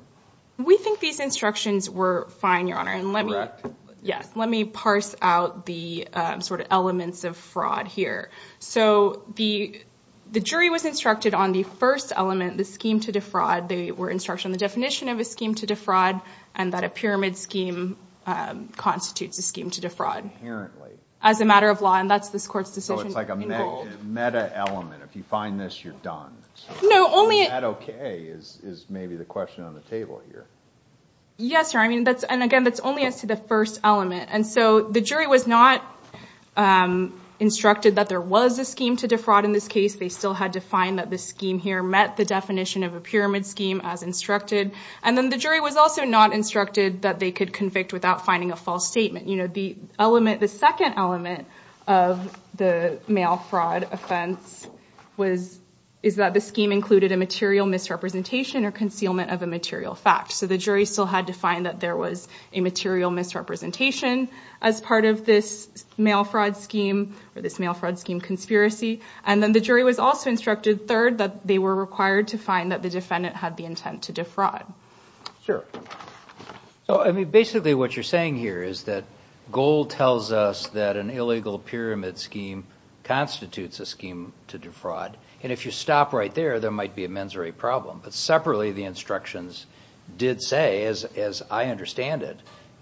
We think these instructions were fine, Your Honor, and let me – Correct. Yes, let me parse out the sort of elements of fraud here. So the jury was instructed on the first element, the scheme to defraud. They were instructed on the definition of a scheme to defraud and that a pyramid scheme constitutes a scheme to defraud. Inherently. As a matter of law, and that's this Court's decision. So it's like a meta element. If you find this, you're done. No, only – Is that okay is maybe the question on the table here. Yes, Your Honor. I mean, that's – and again, that's only as to the first element. And so the jury was not instructed that there was a scheme to defraud in this case. They still had to find that the scheme here met the definition of a pyramid scheme as instructed. And then the jury was also not instructed that they could convict without finding a false statement. You know, the element – the second element of the mail fraud offense was – is that the scheme included a material misrepresentation or concealment of a material fact. So the jury still had to find that there was a material misrepresentation as part of this mail fraud scheme or this mail fraud scheme conspiracy. And then the jury was also instructed, third, that they were required to find that the defendant had the intent to defraud. Sure. So, I mean, basically what you're saying here is that Gold tells us that an illegal pyramid scheme constitutes a scheme to defraud. And if you stop right there, there might be a mensory problem. But separately, the instructions did say, as I understand it,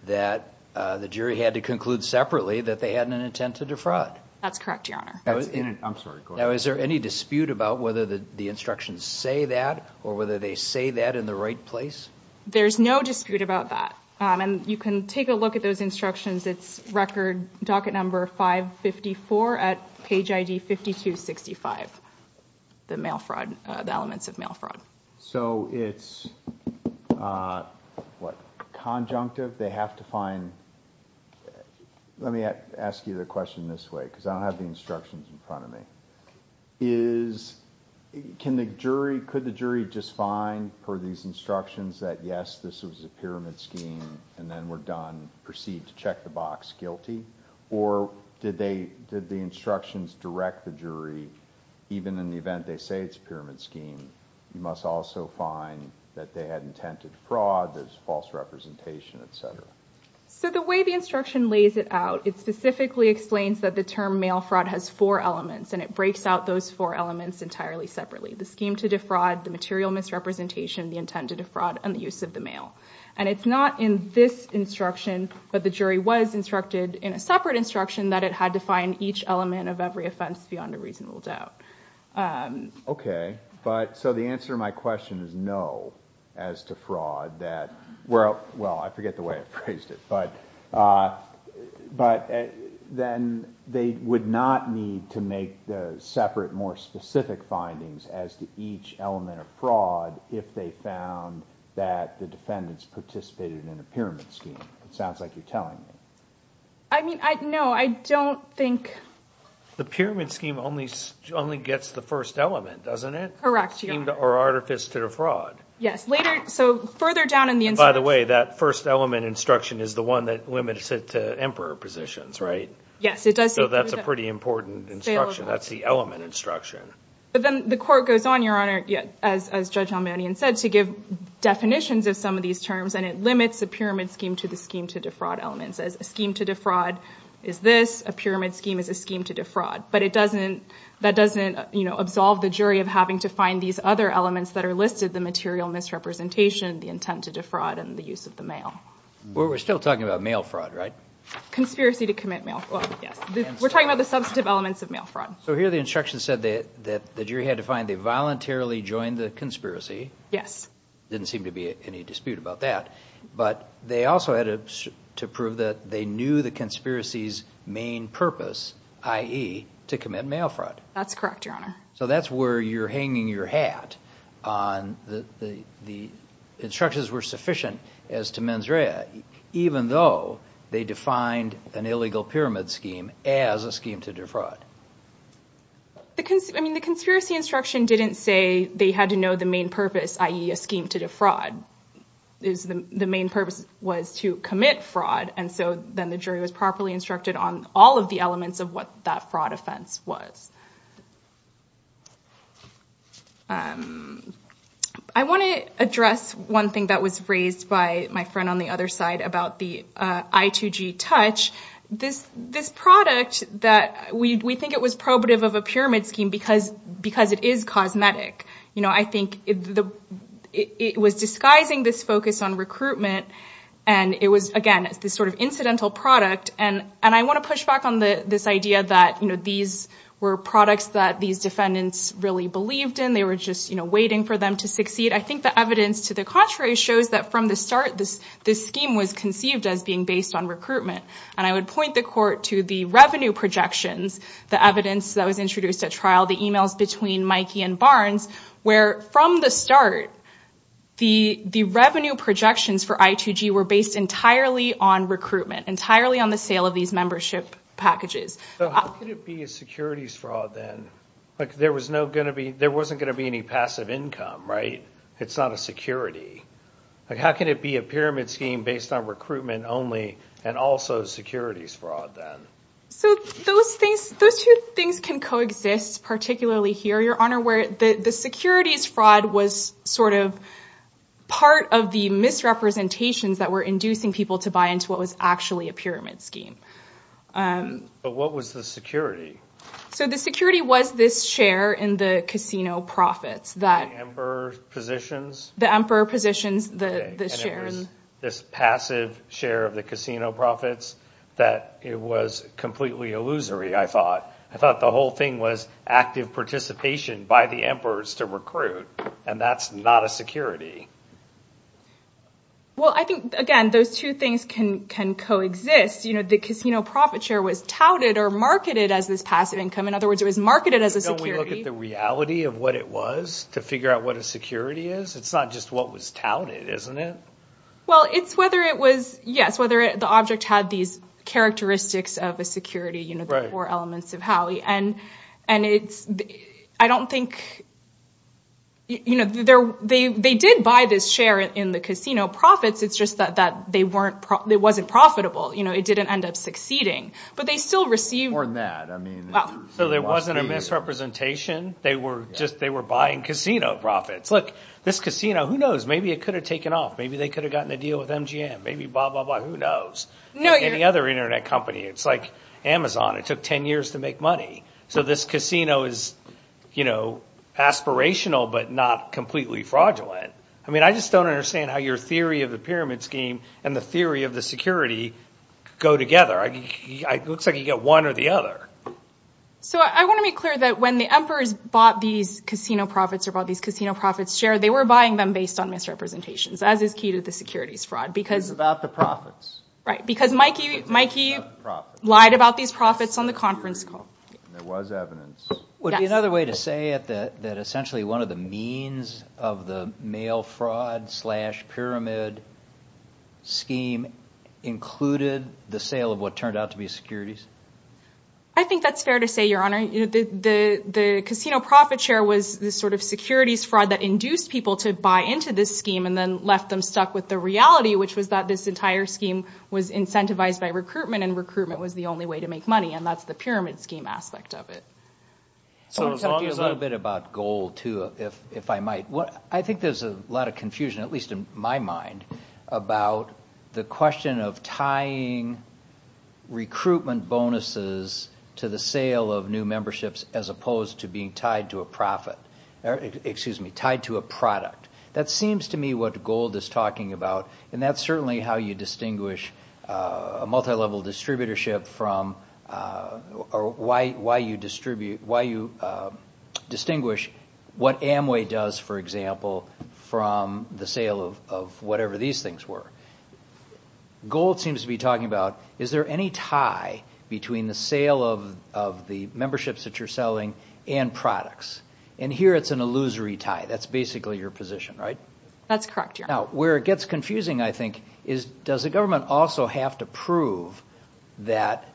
that the jury had to conclude separately that they had an intent to defraud. That's correct, Your Honor. Now, is there any dispute about whether the instructions say that or whether they say that in the right place? There's no dispute about that. And you can take a look at those instructions. It's record docket number 554 at page ID 5265, the mail fraud – the elements of mail fraud. So it's, what, conjunctive? They have to find – Let me ask you the question this way because I don't have the instructions in front of me. Is – can the jury – could the jury just find for these instructions that, yes, this was a pyramid scheme and then we're done, proceed to check the box guilty? Or did they – did the instructions direct the jury, even in the event they say it's a pyramid scheme, you must also find that they had intent to defraud, there's false representation, et cetera? So the way the instruction lays it out, it specifically explains that the term mail fraud has four elements and it breaks out those four elements entirely separately – the scheme to defraud, the material misrepresentation, the intent to defraud, and the use of the mail. And it's not in this instruction that the jury was instructed in a separate instruction that it had to find each element of every offense beyond a reasonable doubt. Okay, but – so the answer to my question is no as to fraud, that – well, I forget the way I phrased it, but then they would not need to make the separate, more specific findings as to each element of fraud if they found that the defendants participated in the pyramid scheme. It sounds like you're telling me. I mean, no, I don't think – The pyramid scheme only gets the first element, doesn't it? Correct, yes. Or artifice to defraud. Yes. By the way, that first element instruction is the one that limits it to emperor positions, right? Yes, it does. So that's a pretty important instruction. That's the element instruction. But then the court goes on, Your Honor, as Judge Halmanian said, to give definitions of some of these terms, and it limits the pyramid scheme to the scheme to defraud element. It says a scheme to defraud is this, a pyramid scheme is a scheme to defraud. But it doesn't – that doesn't, you know, absolve the jury of having to find these other elements that are listed, the material misrepresentation, the intent to defraud, and the use of the mail. We're still talking about mail fraud, right? Conspiracy to commit mail fraud. We're talking about the substantive elements of mail fraud. So here the instruction said that the jury had to find they voluntarily joined the conspiracy. Yes. Didn't seem to be any dispute about that. But they also had to prove that they knew the conspiracy's main purpose, i.e., to commit mail fraud. That's correct, Your Honor. So that's where you're hanging your hat. The instructions were sufficient as to mens rea, even though they defined an illegal pyramid scheme as a scheme to defraud. I mean, the conspiracy instruction didn't say they had to know the main purpose, i.e., a scheme to defraud. The main purpose was to commit fraud, and so then the jury was properly instructed on all of the elements of what that fraud offense was. I want to address one thing that was raised by my friend on the other side about the I2G Touch. This product, we think it was probative of a pyramid scheme because it is cosmetic. I think it was disguising this focus on recruitment, and it was, again, this sort of incidental product. And I want to push back on this idea that these were products that these defendants really believed in. They were just waiting for them to succeed. I think the evidence to the contrary shows that from the start, this scheme was conceived as being based on recruitment. And I would point the Court to the revenue projections, the evidence that was introduced at trial, the emails between Mikey and Barnes, where from the start, the revenue projections for I2G were based entirely on recruitment, entirely on the sale of these membership packages. So how could it be a securities fraud then? There wasn't going to be any passive income, right? It's not a security. How can it be a pyramid scheme based on recruitment only and also securities fraud then? Those two things can coexist, particularly here, Your Honor, where the securities fraud was sort of part of the misrepresentations that were inducing people to buy into what was actually a pyramid scheme. But what was the security? So the security was this share in the casino profits. The emperor positions? The emperor positions, the shares. This passive share of the casino profits that it was completely illusory, I thought. I thought the whole thing was active participation by the emperors to recruit, and that's not a security. Well, I think, again, those two things can coexist. The casino profit share was touted or marketed as this passive income. In other words, it was marketed as a security. Don't we look at the reality of what it was to figure out what a security is? It's not just what was touted, isn't it? Well, it's whether it was, yes, whether the object had these characteristics of a security, the four elements of Howie. And I don't think, you know, they did buy this share in the casino profits. It's just that it wasn't profitable. You know, it didn't end up succeeding. But they still received. More than that. So there wasn't a misrepresentation. They were buying casino profits. Look, this casino, who knows? Maybe it could have taken off. Maybe they could have gotten a deal with MGM. Maybe blah, blah, blah. Who knows? Any other Internet company. It's like Amazon. It took 10 years to make money. So this casino is, you know, aspirational but not completely fraudulent. I mean, I just don't understand how your theory of the pyramid scheme and the theory of the security go together. It looks like you get one or the other. So I want to make clear that when the emperors bought these casino profits or bought these casino profits share, they were buying them based on misrepresentations, as is key to the securities fraud. It was about the profits. Right, because Mikey lied about these profits on the conference call. There was evidence. Would it be another way to say that essentially one of the means of the mail fraud slash pyramid scheme included the sale of what turned out to be securities? I think that's fair to say, Your Honor. The casino profit share was the sort of securities fraud that induced people to buy into this scheme and then left them stuck with the reality, which was that this entire scheme was incentivized by recruitment and recruitment was the only way to make money, and that's the pyramid scheme aspect of it. So I was wondering a little bit about gold, too, if I might. I think there's a lot of confusion, at least in my mind, about the question of tying recruitment bonuses to the sale of new memberships as opposed to being tied to a profit. Excuse me, tied to a product. That seems to me what gold is talking about, and that's certainly how you distinguish a multilevel distributorship or why you distinguish what Amway does, for example, from the sale of whatever these things were. Gold seems to be talking about is there any tie between the sale of the memberships that you're selling and products, and here it's an illusory tie. That's basically your position, right? That's correct, Your Honor. Now, where it gets confusing, I think, is does the government also have to prove that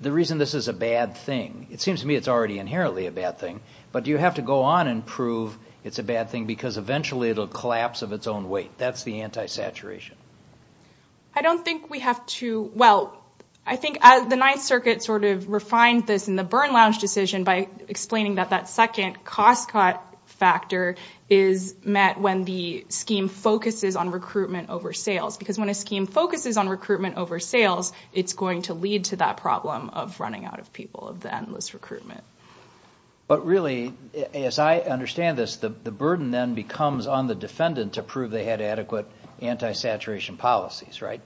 the reason this is a bad thing, it seems to me it's already inherently a bad thing, but do you have to go on and prove it's a bad thing because eventually it'll collapse of its own weight? That's the anti-saturation. I don't think we have to. Well, I think the Ninth Circuit sort of refined this in the Byrne Lounge decision by explaining that that second cost cut factor is met when the scheme focuses on recruitment over sales because when a scheme focuses on recruitment over sales, it's going to lead to that problem of running out of people, of the endless recruitment. But really, as I understand this, the burden then becomes on the defendant to prove they had adequate anti-saturation policies, right?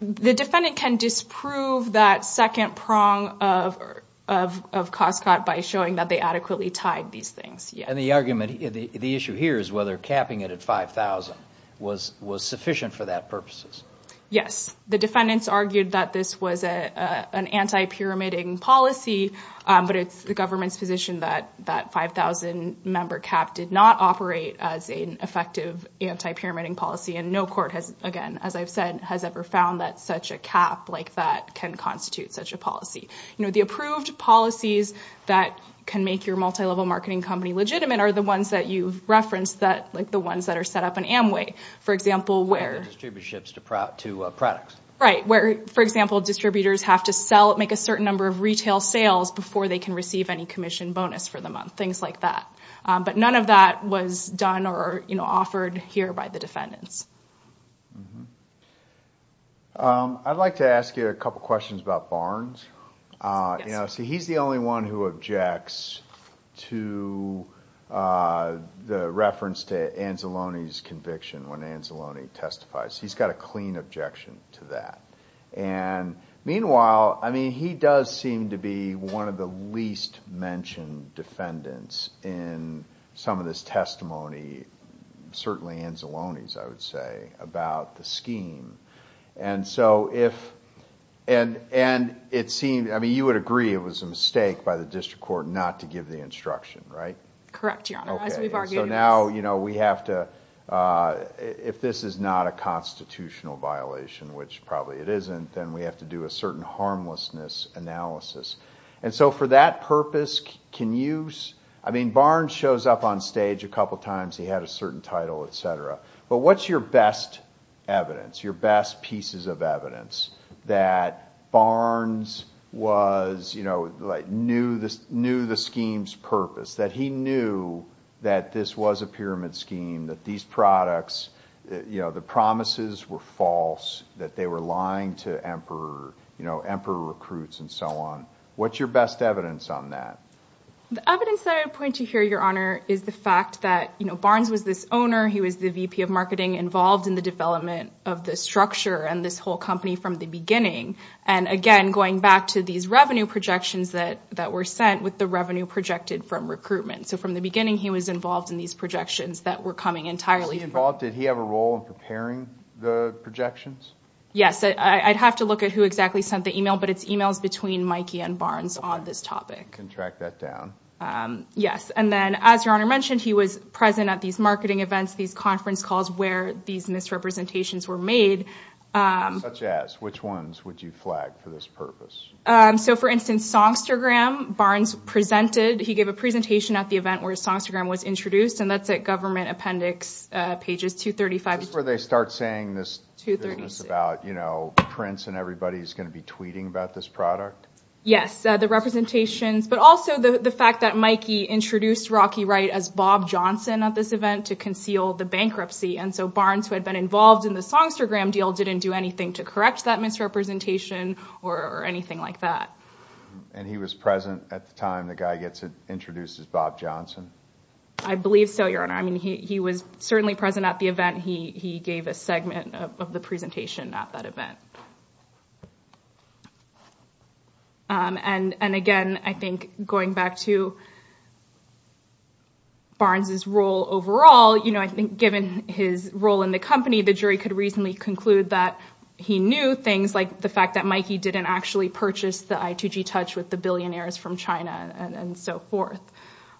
The defendant can disprove that second prong of cost cut by showing that they adequately tied these things, yes. And the argument, the issue here is whether capping it at $5,000 was sufficient for that purposes. Yes. The defendants argued that this was an anti-pyramiding policy, but it's the government's position that that $5,000 member cap did not operate as an effective anti-pyramiding policy, and no court has, again, as I've said, has ever found that such a cap like that can constitute such a policy. You know, the approved policies that can make your multilevel marketing company legitimate are the ones that you've referenced, like the ones that are set up in Amway, for example, where... Where they distribute ships to products. Right, where, for example, distributors have to make a certain number of retail sales before they can receive any commission bonus for the month, things like that. But none of that was done or, you know, offered here by the defendants. I'd like to ask you a couple questions about Barnes. You know, see, he's the only one who objects to the reference to Anzalone's conviction when Anzalone testifies. He's got a clean objection to that. And meanwhile, I mean, he does seem to be one of the least mentioned defendants in some of this testimony, certainly Anzalone's, I would say, about the scheme. And so if... And it seemed, I mean, you would agree it was a mistake by the district court not to give the instruction, right? Correct, Your Honor. Okay, so now, you know, we have to... If this is not a constitutional violation, which probably it isn't, then we have to do a certain harmlessness analysis. And so for that purpose, can you... I mean, Barnes shows up on stage a couple times. He had a certain title, et cetera. But what's your best evidence, your best pieces of evidence that Barnes was, you know, like, knew the scheme's purpose, that he knew that this was a pyramid scheme, that these products, you know, the promises were false, that they were lying to emperor recruits and so on? What's your best evidence on that? The evidence that I would point to here, Your Honor, is the fact that, you know, Barnes was this owner. He was the VP of Marketing involved in the development of this structure and this whole company from the beginning. And again, going back to these revenue projections that were sent with the revenue projected from recruitment. So from the beginning, he was involved in these projections that were coming entirely... Did he have a role in preparing the projections? Yes, I'd have to look at who exactly sent the email, but it's emails between Mikey and Barnes on this topic. I can track that down. Yes, and then as Your Honor mentioned, he was present at these marketing events, these conference calls where these misrepresentations were made. Such as? Which ones would you flag for this purpose? So, for instance, Songstagram, Barnes presented. He gave a presentation at the event where Songstagram was introduced and that's at Government Appendix, pages 235 and 236. This is where they start saying this about, you know, Prince and everybody is going to be tweeting about this product? Yes, the representations, but also the fact that Mikey introduced Rocky Wright as Bob Johnson at this event to conceal the bankruptcy. And so Barnes, who had been involved in the Songstagram deal, didn't do anything to correct that misrepresentation or anything like that. And he was present at the time the guy gets introduced as Bob Johnson? I believe so, Your Honor. I mean, he was certainly present at the event. He gave a segment of the presentation at that event. And again, I think going back to Barnes' role overall, you know, I think given his role in the company, the jury could reasonably conclude that he knew things like the fact that Mikey didn't actually purchase the I2G Touch with the billionaires from China and so forth.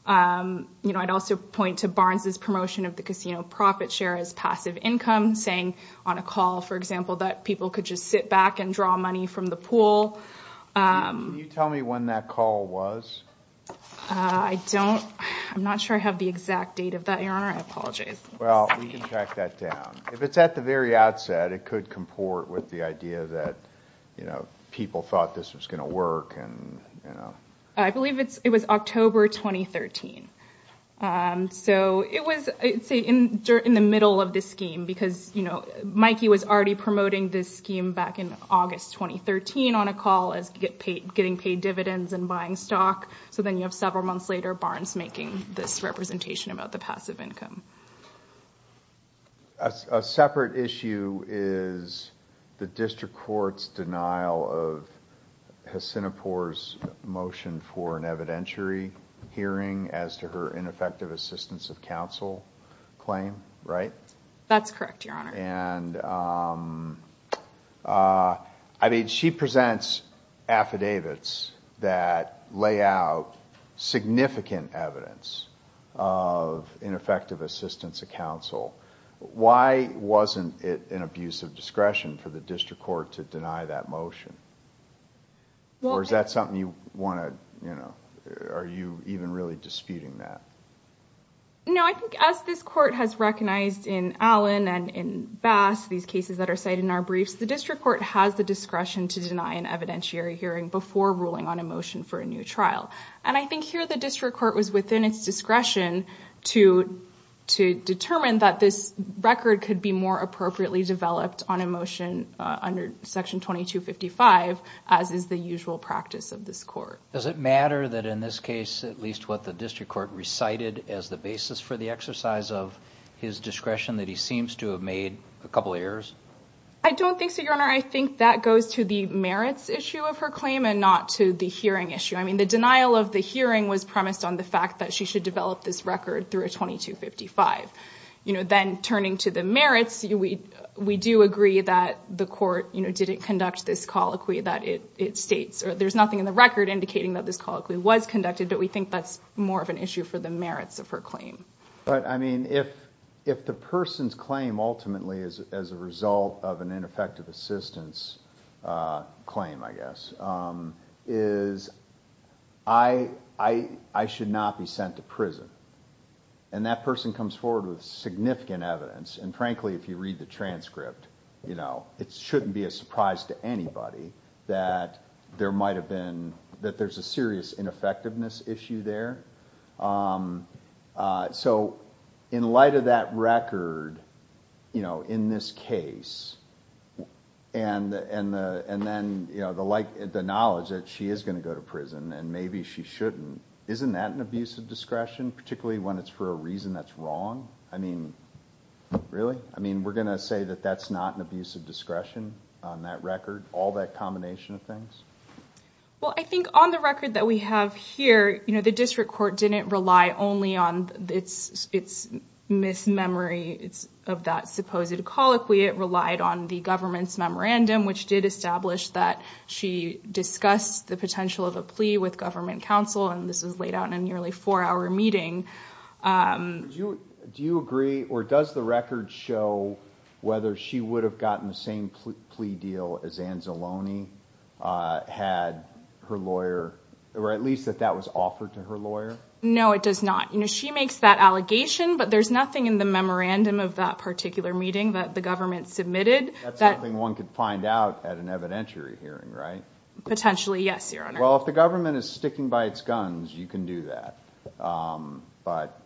You know, I'd also point to Barnes' promotion of the casino profit share as passive income, saying on a call, for example, that people could just sit back and draw money from the pool. Can you tell me when that call was? I don't, I'm not sure I have the exact date of that, Your Honor. I apologize. Well, we can track that down. If it's at the very outset, it could comport with the idea that, you know, people thought this was going to work and, you know. I believe it was October 2013. So it was, say, in the middle of this scheme because, you know, Mikey was already promoting this scheme back in August 2013 on a call as getting paid dividends and buying stock. So then you have several months later, Barnes making this representation about the passive income. A separate issue is the district court's denial of Hacinopore's motion for an evidentiary hearing as to her ineffective assistance of counsel claim, right? That's correct, Your Honor. And, I mean, she presents affidavits that lay out significant evidence of ineffective assistance of counsel. Why wasn't it an abuse of discretion for the district court to deny that motion? Or is that something you want to, you know, are you even really disputing that? No, I think as this court has recognized in Allen and in Bass, these cases that are cited in our briefs, the district court has the discretion to deny an evidentiary hearing before ruling on a motion for a new trial. And I think here the district court was within its discretion to determine that this record could be more appropriately developed on a motion under Section 2255 as is the usual practice of this court. Does it matter that in this case, at least what the district court recited as the basis for the exercise of his discretion that he seems to have made a couple of errors? I don't think so, Your Honor. I think that goes to the merits issue of her claim and not to the hearing issue. I mean, the denial of the hearing was premised on the fact that she should develop this record through a 2255. You know, then turning to the merits, we do agree that the court, you know, didn't conduct this colloquy that it states, or there's nothing in the record indicating that this colloquy was conducted, but we think that's more of an issue for the merits of her claim. But, I mean, if the person's claim ultimately is as a result of an ineffective assistance claim, I guess, is I should not be sent to prison. And that person comes forward with significant evidence. And frankly, if you read the transcript, you know, it shouldn't be a surprise to anybody that there might have been, that there's a serious ineffectiveness issue there. So, in light of that record, you know, in this case, and then, you know, the knowledge that she is going to go to prison and maybe she shouldn't, isn't that an abuse of discretion, particularly when it's for a reason that's wrong? I mean, really? I mean, we're going to say that that's not an abuse of discretion on that record, all that combination of things? Well, I think on the record that we have here, you know, the district court didn't rely only on its mis-memory of that supposed colloquy. It relied on the government's memorandum, which did establish that she discussed the potential of a plea with government counsel, and this was laid out in a nearly four-hour meeting. Do you agree, or does the record show whether she would have gotten the same plea deal as Anzalone had her lawyer, or at least that that was offered to her lawyer? No, it does not. You know, she makes that allegation, but there's nothing in the memorandum of that particular meeting that the government submitted. That's something one could find out at an evidentiary hearing, right? Potentially, yes, Your Honor. Well, if the government is sticking by its guns, you can do that. But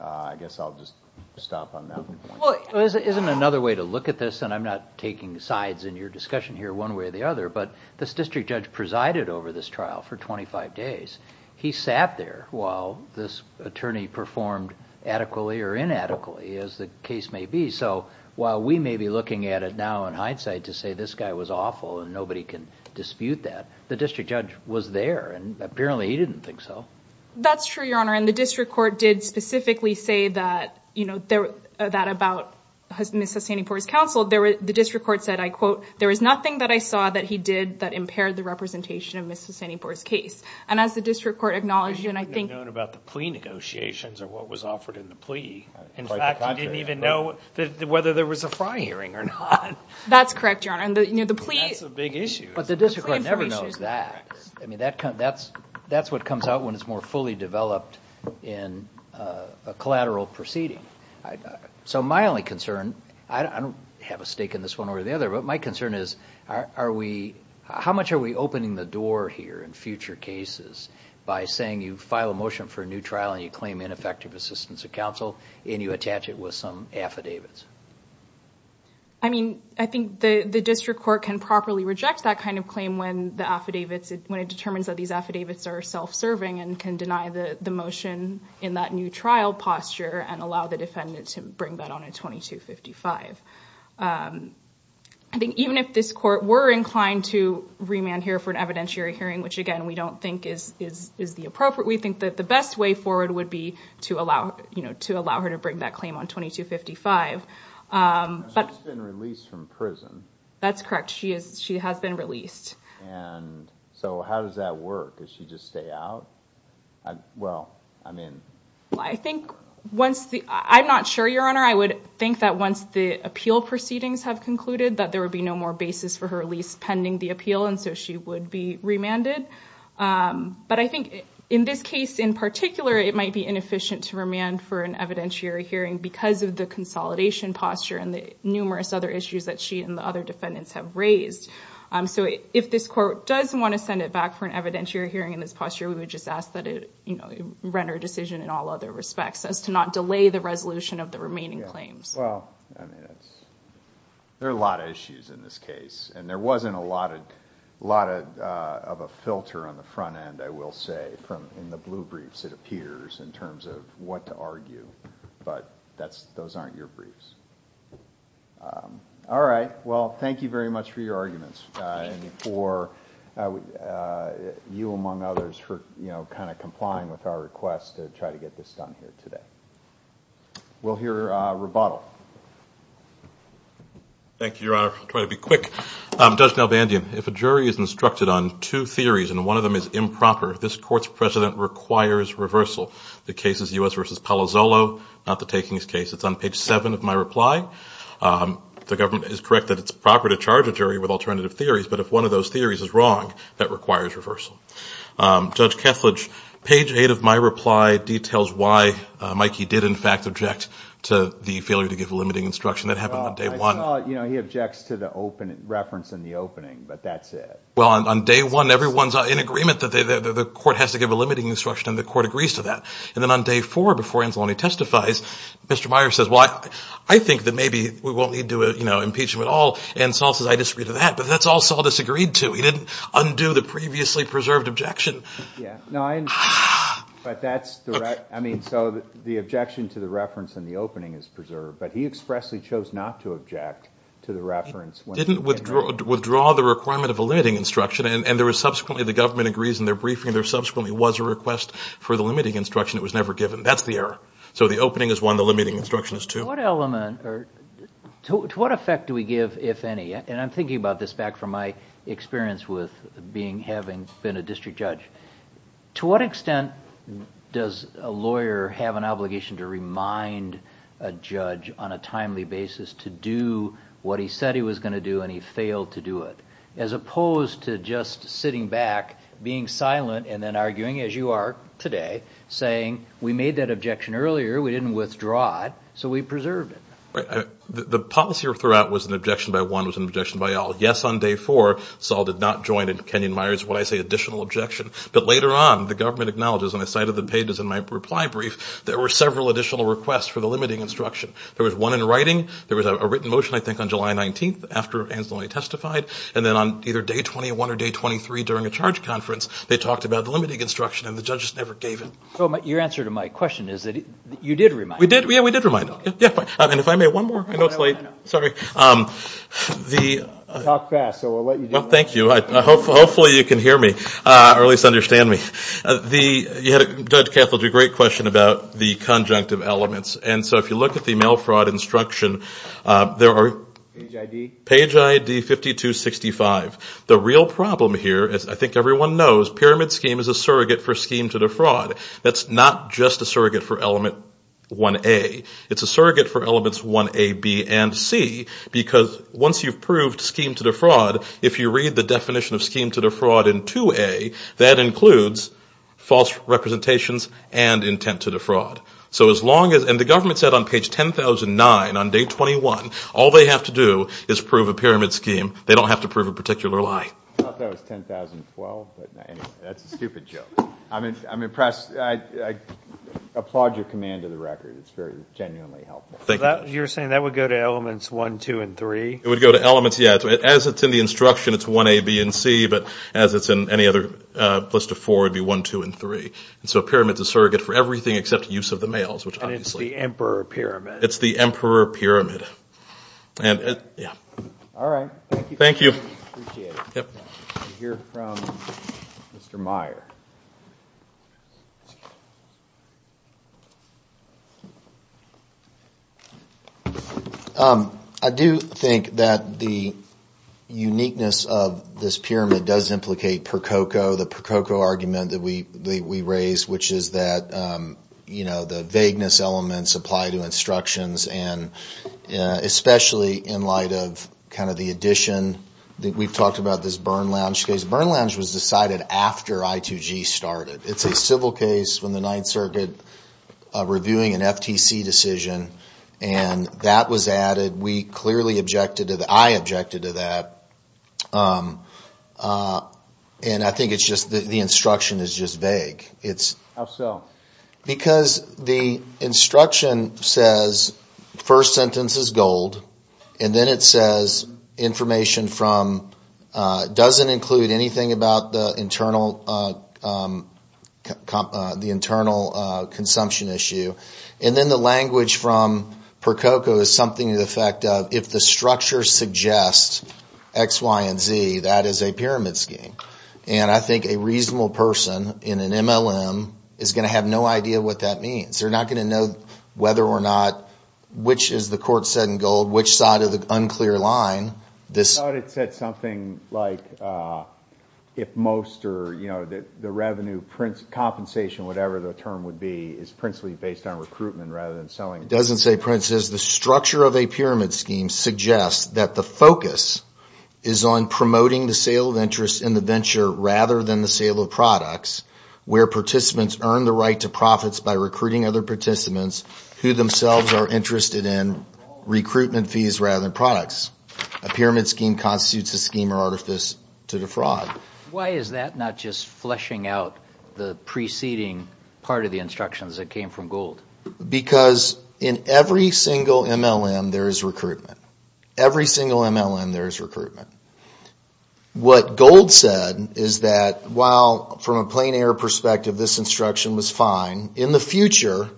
I guess I'll just stop on that one. Well, isn't another way to look at this, and I'm not taking sides in your discussion here one way or the other, but this district judge presided over this trial for 25 days. He sat there while this attorney performed adequately or inadequately, as the case may be. So while we may be looking at it now in hindsight to say this guy was awful and nobody can dispute that, the district judge was there, and apparently he didn't think so. That's true, Your Honor, and the district court did specifically say that, you know, that about Ms. Sassanian-Ford's counsel. The district court said, I quote, there is nothing that I saw that he did that impaired the representation of Ms. Sassanian-Ford's case. And as the district court acknowledged, and I think... They didn't even know about the plea negotiations or what was offered in the plea. In fact, they didn't even know whether there was a fine hearing or not. That's correct, Your Honor. That's a big issue. But the district court never knows that. That's what comes out when it's more fully developed in a collateral proceeding. So my only concern, I don't have a stake in this one or the other, but my concern is how much are we opening the door here in future cases by saying you file a motion for a new trial and you claim ineffective assistance of counsel and you attach it with some affidavits? I mean, I think the district court can properly reject that kind of claim when it determines that these affidavits are self-serving and can deny the motion in that new trial posture and allow the defendant to bring that on in 2255. I think even if this court were inclined to remand here for an evidentiary hearing, which, again, we don't think is the appropriate, we think that the best way forward would be to allow her to bring that claim on 2255. She's been released from prison. That's correct. She has been released. So how does that work? Does she just stay out? Well, I mean... I'm not sure, Your Honor. I would think that once the appeal proceedings have concluded that there would be no more basis for her release pending the appeal and so she would be remanded. But I think in this case in particular, it might be inefficient to remand for an evidentiary hearing because of the consolidation posture and the numerous other issues that she and the other defendants have raised. So if this court does want to send it back for an evidentiary hearing in this posture, we would just ask that it render a decision in all other respects as to not delay the resolution of the remaining claims. Well, I mean, there are a lot of issues in this case, and there wasn't a lot of a filter on the front end, I will say, in the blue briefs, it appears, in terms of what to argue. But those aren't your briefs. All right. Well, thank you very much for your arguments and for you, among others, for, you know, kind of complying with our request to try to get this done here today. We'll hear rebuttal. Thank you, Your Honor. I'll try to be quick. Judge Nalbandian, if a jury is instructed on two theories and one of them is improper, this court's precedent requires reversal. The case is U.S. v. Palazzolo, not the takings case. It's on page 7 of my reply. The government is correct that it's improper to charge a jury with alternative theories, but if one of those theories is wrong, that requires reversal. Judge Kethledge, page 8 of my reply details why Mikey did, in fact, object to the failure to give a limiting instruction. That happened on day 1. Well, I saw it. You know, he objects to the reference in the opening, but that's it. Well, on day 1, everyone's in agreement that the court has to give a limiting instruction, and the court agrees to that. And then on day 4, before Anzalone testifies, Mr. Myers says, well, I think that maybe we won't need to impeach him at all, and Saul says, I disagree to that, but that's all Saul disagreed to. He didn't undo the previously preserved objection. Yeah. No, I agree. But that's the right... I mean, so the objection to the reference in the opening is preserved, but he expressly chose not to object to the reference... Didn't withdraw the requirement of a limiting instruction, and subsequently the government agrees in their briefing there subsequently was a request for the limiting instruction that was never given. That's the error. So the opening is 1, the limiting instruction is 2. To what effect do we give, if any? And I'm thinking about this back from my experience with having been a district judge. To what extent does a lawyer have an obligation to remind a judge on a timely basis to do what he said he was going to do, and he failed to do it, as opposed to just sitting back, being silent, and then arguing as you are today, saying we made that objection earlier, we didn't withdraw it, so we preserved it. The policy we threw out was an objection by one, it was an objection by all. Yes, on day 4, Saul did not join in Kenyon-Myers, when I say additional objection, but later on the government acknowledges, and I cited the pages in my reply brief, there were several additional requests for the limiting instruction. There was one in writing, there was a written motion I think on July 19th after Anthony testified, and then on either day 21 or day 23 during a charge conference they talked about the limiting instruction, and the judges never gave it. So your answer to my question is that you did remind them. We did, we did remind them. And if I may, one more quickly, sorry. Talk fast, so we'll let you do that. Thank you. Hopefully you can hear me, or at least understand me. Judge Kessler, you had a great question about the conjunctive elements, and so if you look at the mail fraud instruction, there are page ID 5265. The real problem here, as I think everyone knows, pyramid scheme is a surrogate for scheme to defraud. That's not just a surrogate for element 1A. It's a surrogate for elements 1A, B, and C, because once you've proved scheme to defraud, if you read the definition of scheme to defraud in 2A, that includes false representations and intent to defraud. So as long as, and the government said on page 1009 on day 21, all they have to do is prove a pyramid scheme. They don't have to prove a particular lie. I thought that was 10,012, but anyway, that's a stupid joke. I'm impressed. I applaud your command of the record. It's very genuinely helpful. Thank you. You're saying that would go to elements 1, 2, and 3? It would go to elements, yeah. As it's in the instruction, it's 1A, B, and C, but as it's in any other list of four, it would be 1, 2, and 3. So pyramids are surrogates for everything except use of the mails, which obviously... And it's the emperor pyramid. It's the emperor pyramid. All right. Thank you. I hear from Mr. Meyer. I do think that the uniqueness of this pyramid does implicate Prococo, the Prococo argument that we raised, which is that the vagueness elements apply to instructions, especially in light of the addition. We've talked about this burn lounge case. Burn lounge was decided after I2G started. It's a civil case from the 9th Circuit reviewing an FTC decision, and that was added. We clearly objected to that. I objected to that, and I think the instruction is just vague. How so? Because the instruction says first sentence is gold, and then it says information from... doesn't include anything about the internal consumption issue. And then the language from Prococo is something to the effect of, if the structure suggests X, Y, and Z, that is a pyramid scheme. And I think a reasonable person in an MLM is going to have no idea what that means. They're not going to know whether or not, which is the court said in gold, which side of an unclear line. I thought it said something like, if most or the revenue, compensation or whatever the term would be, is principally based on recruitment rather than selling. It doesn't say print. It says the structure of a pyramid scheme suggests that the focus is on promoting the sale of interest in the venture rather than the sale of products, where participants earn the right to profits by recruiting other participants who themselves are interested in recruitment fees rather than products. A pyramid scheme constitutes a scheme or artifice to the fraud. Why is that not just fleshing out the preceding part of the instructions that came from gold? Because in every single MLM there is recruitment. Every single MLM there is recruitment. What gold said is that while from a plain air perspective this instruction was fine, in the future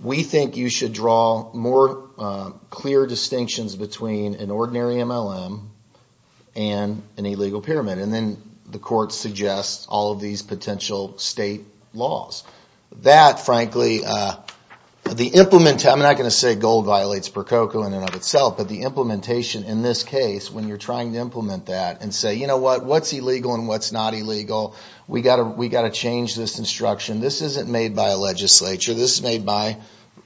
we think you should draw more clear distinctions between an ordinary MLM and an illegal pyramid. And then the court suggests all of these potential state laws. That, frankly, the implement, I'm not going to say gold violates Prococo in and of itself, but the implementation in this case, when you're trying to implement that, and say, you know what? What's illegal and what's not illegal? We've got to change this instruction. This isn't made by a legislature. This is made by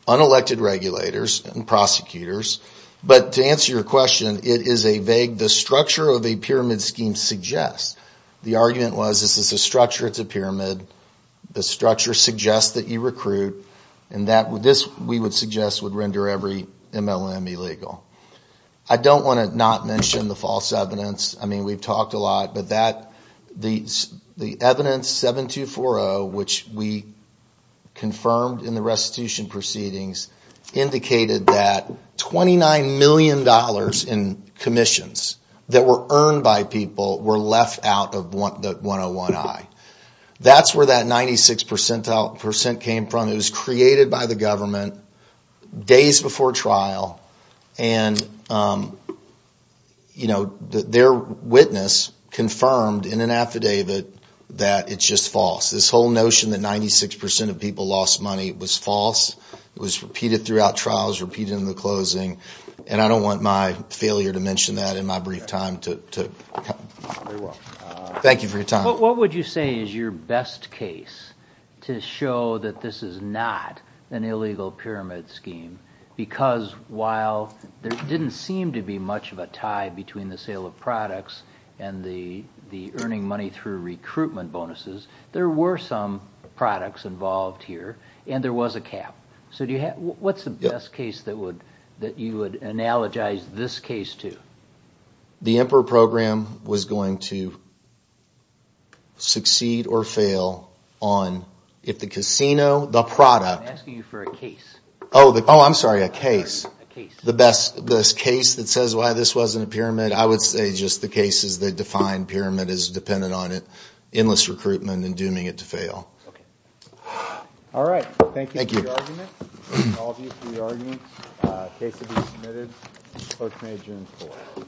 unelected regulators and prosecutors. But to answer your question, it is a vague, the structure of a pyramid scheme suggests. The argument was if it's a structure, it's a pyramid. The structure suggests that you recruit, and this, we would suggest, would render every MLM illegal. I don't want to not mention the false evidence. I mean, we've talked a lot, but the evidence 7240, which we confirmed in the restitution proceedings, indicated that $29 million in commissions that were earned by people were left out of the 101I. That's where that 96% came from. It was created by the government days before trial, and their witness confirmed in an affidavit that it's just false. This whole notion that 96% of people lost money was false. It was repeated throughout trials, repeated in the closing, and I don't want my failure to mention that in my brief time. Thank you for your time. What would you say is your best case to show that this is not an illegal pyramid scheme? Because while there didn't seem to be much of a tie between the sale of products and the earning money through recruitment bonuses, there were some products involved here, and there was a cap. What's the best case that you would analogize this case to? The IMPRA program was going to succeed or fail on, if the casino, the product... I'm asking you for a case. Oh, I'm sorry, a case. The best case that says why this wasn't a pyramid, I would say just the cases that define pyramid as dependent on it, endless recruitment, and dooming it to fail. All right. Thank you for your argument. Thank all of you for your argument. The case has been submitted. The court may adjourn for now.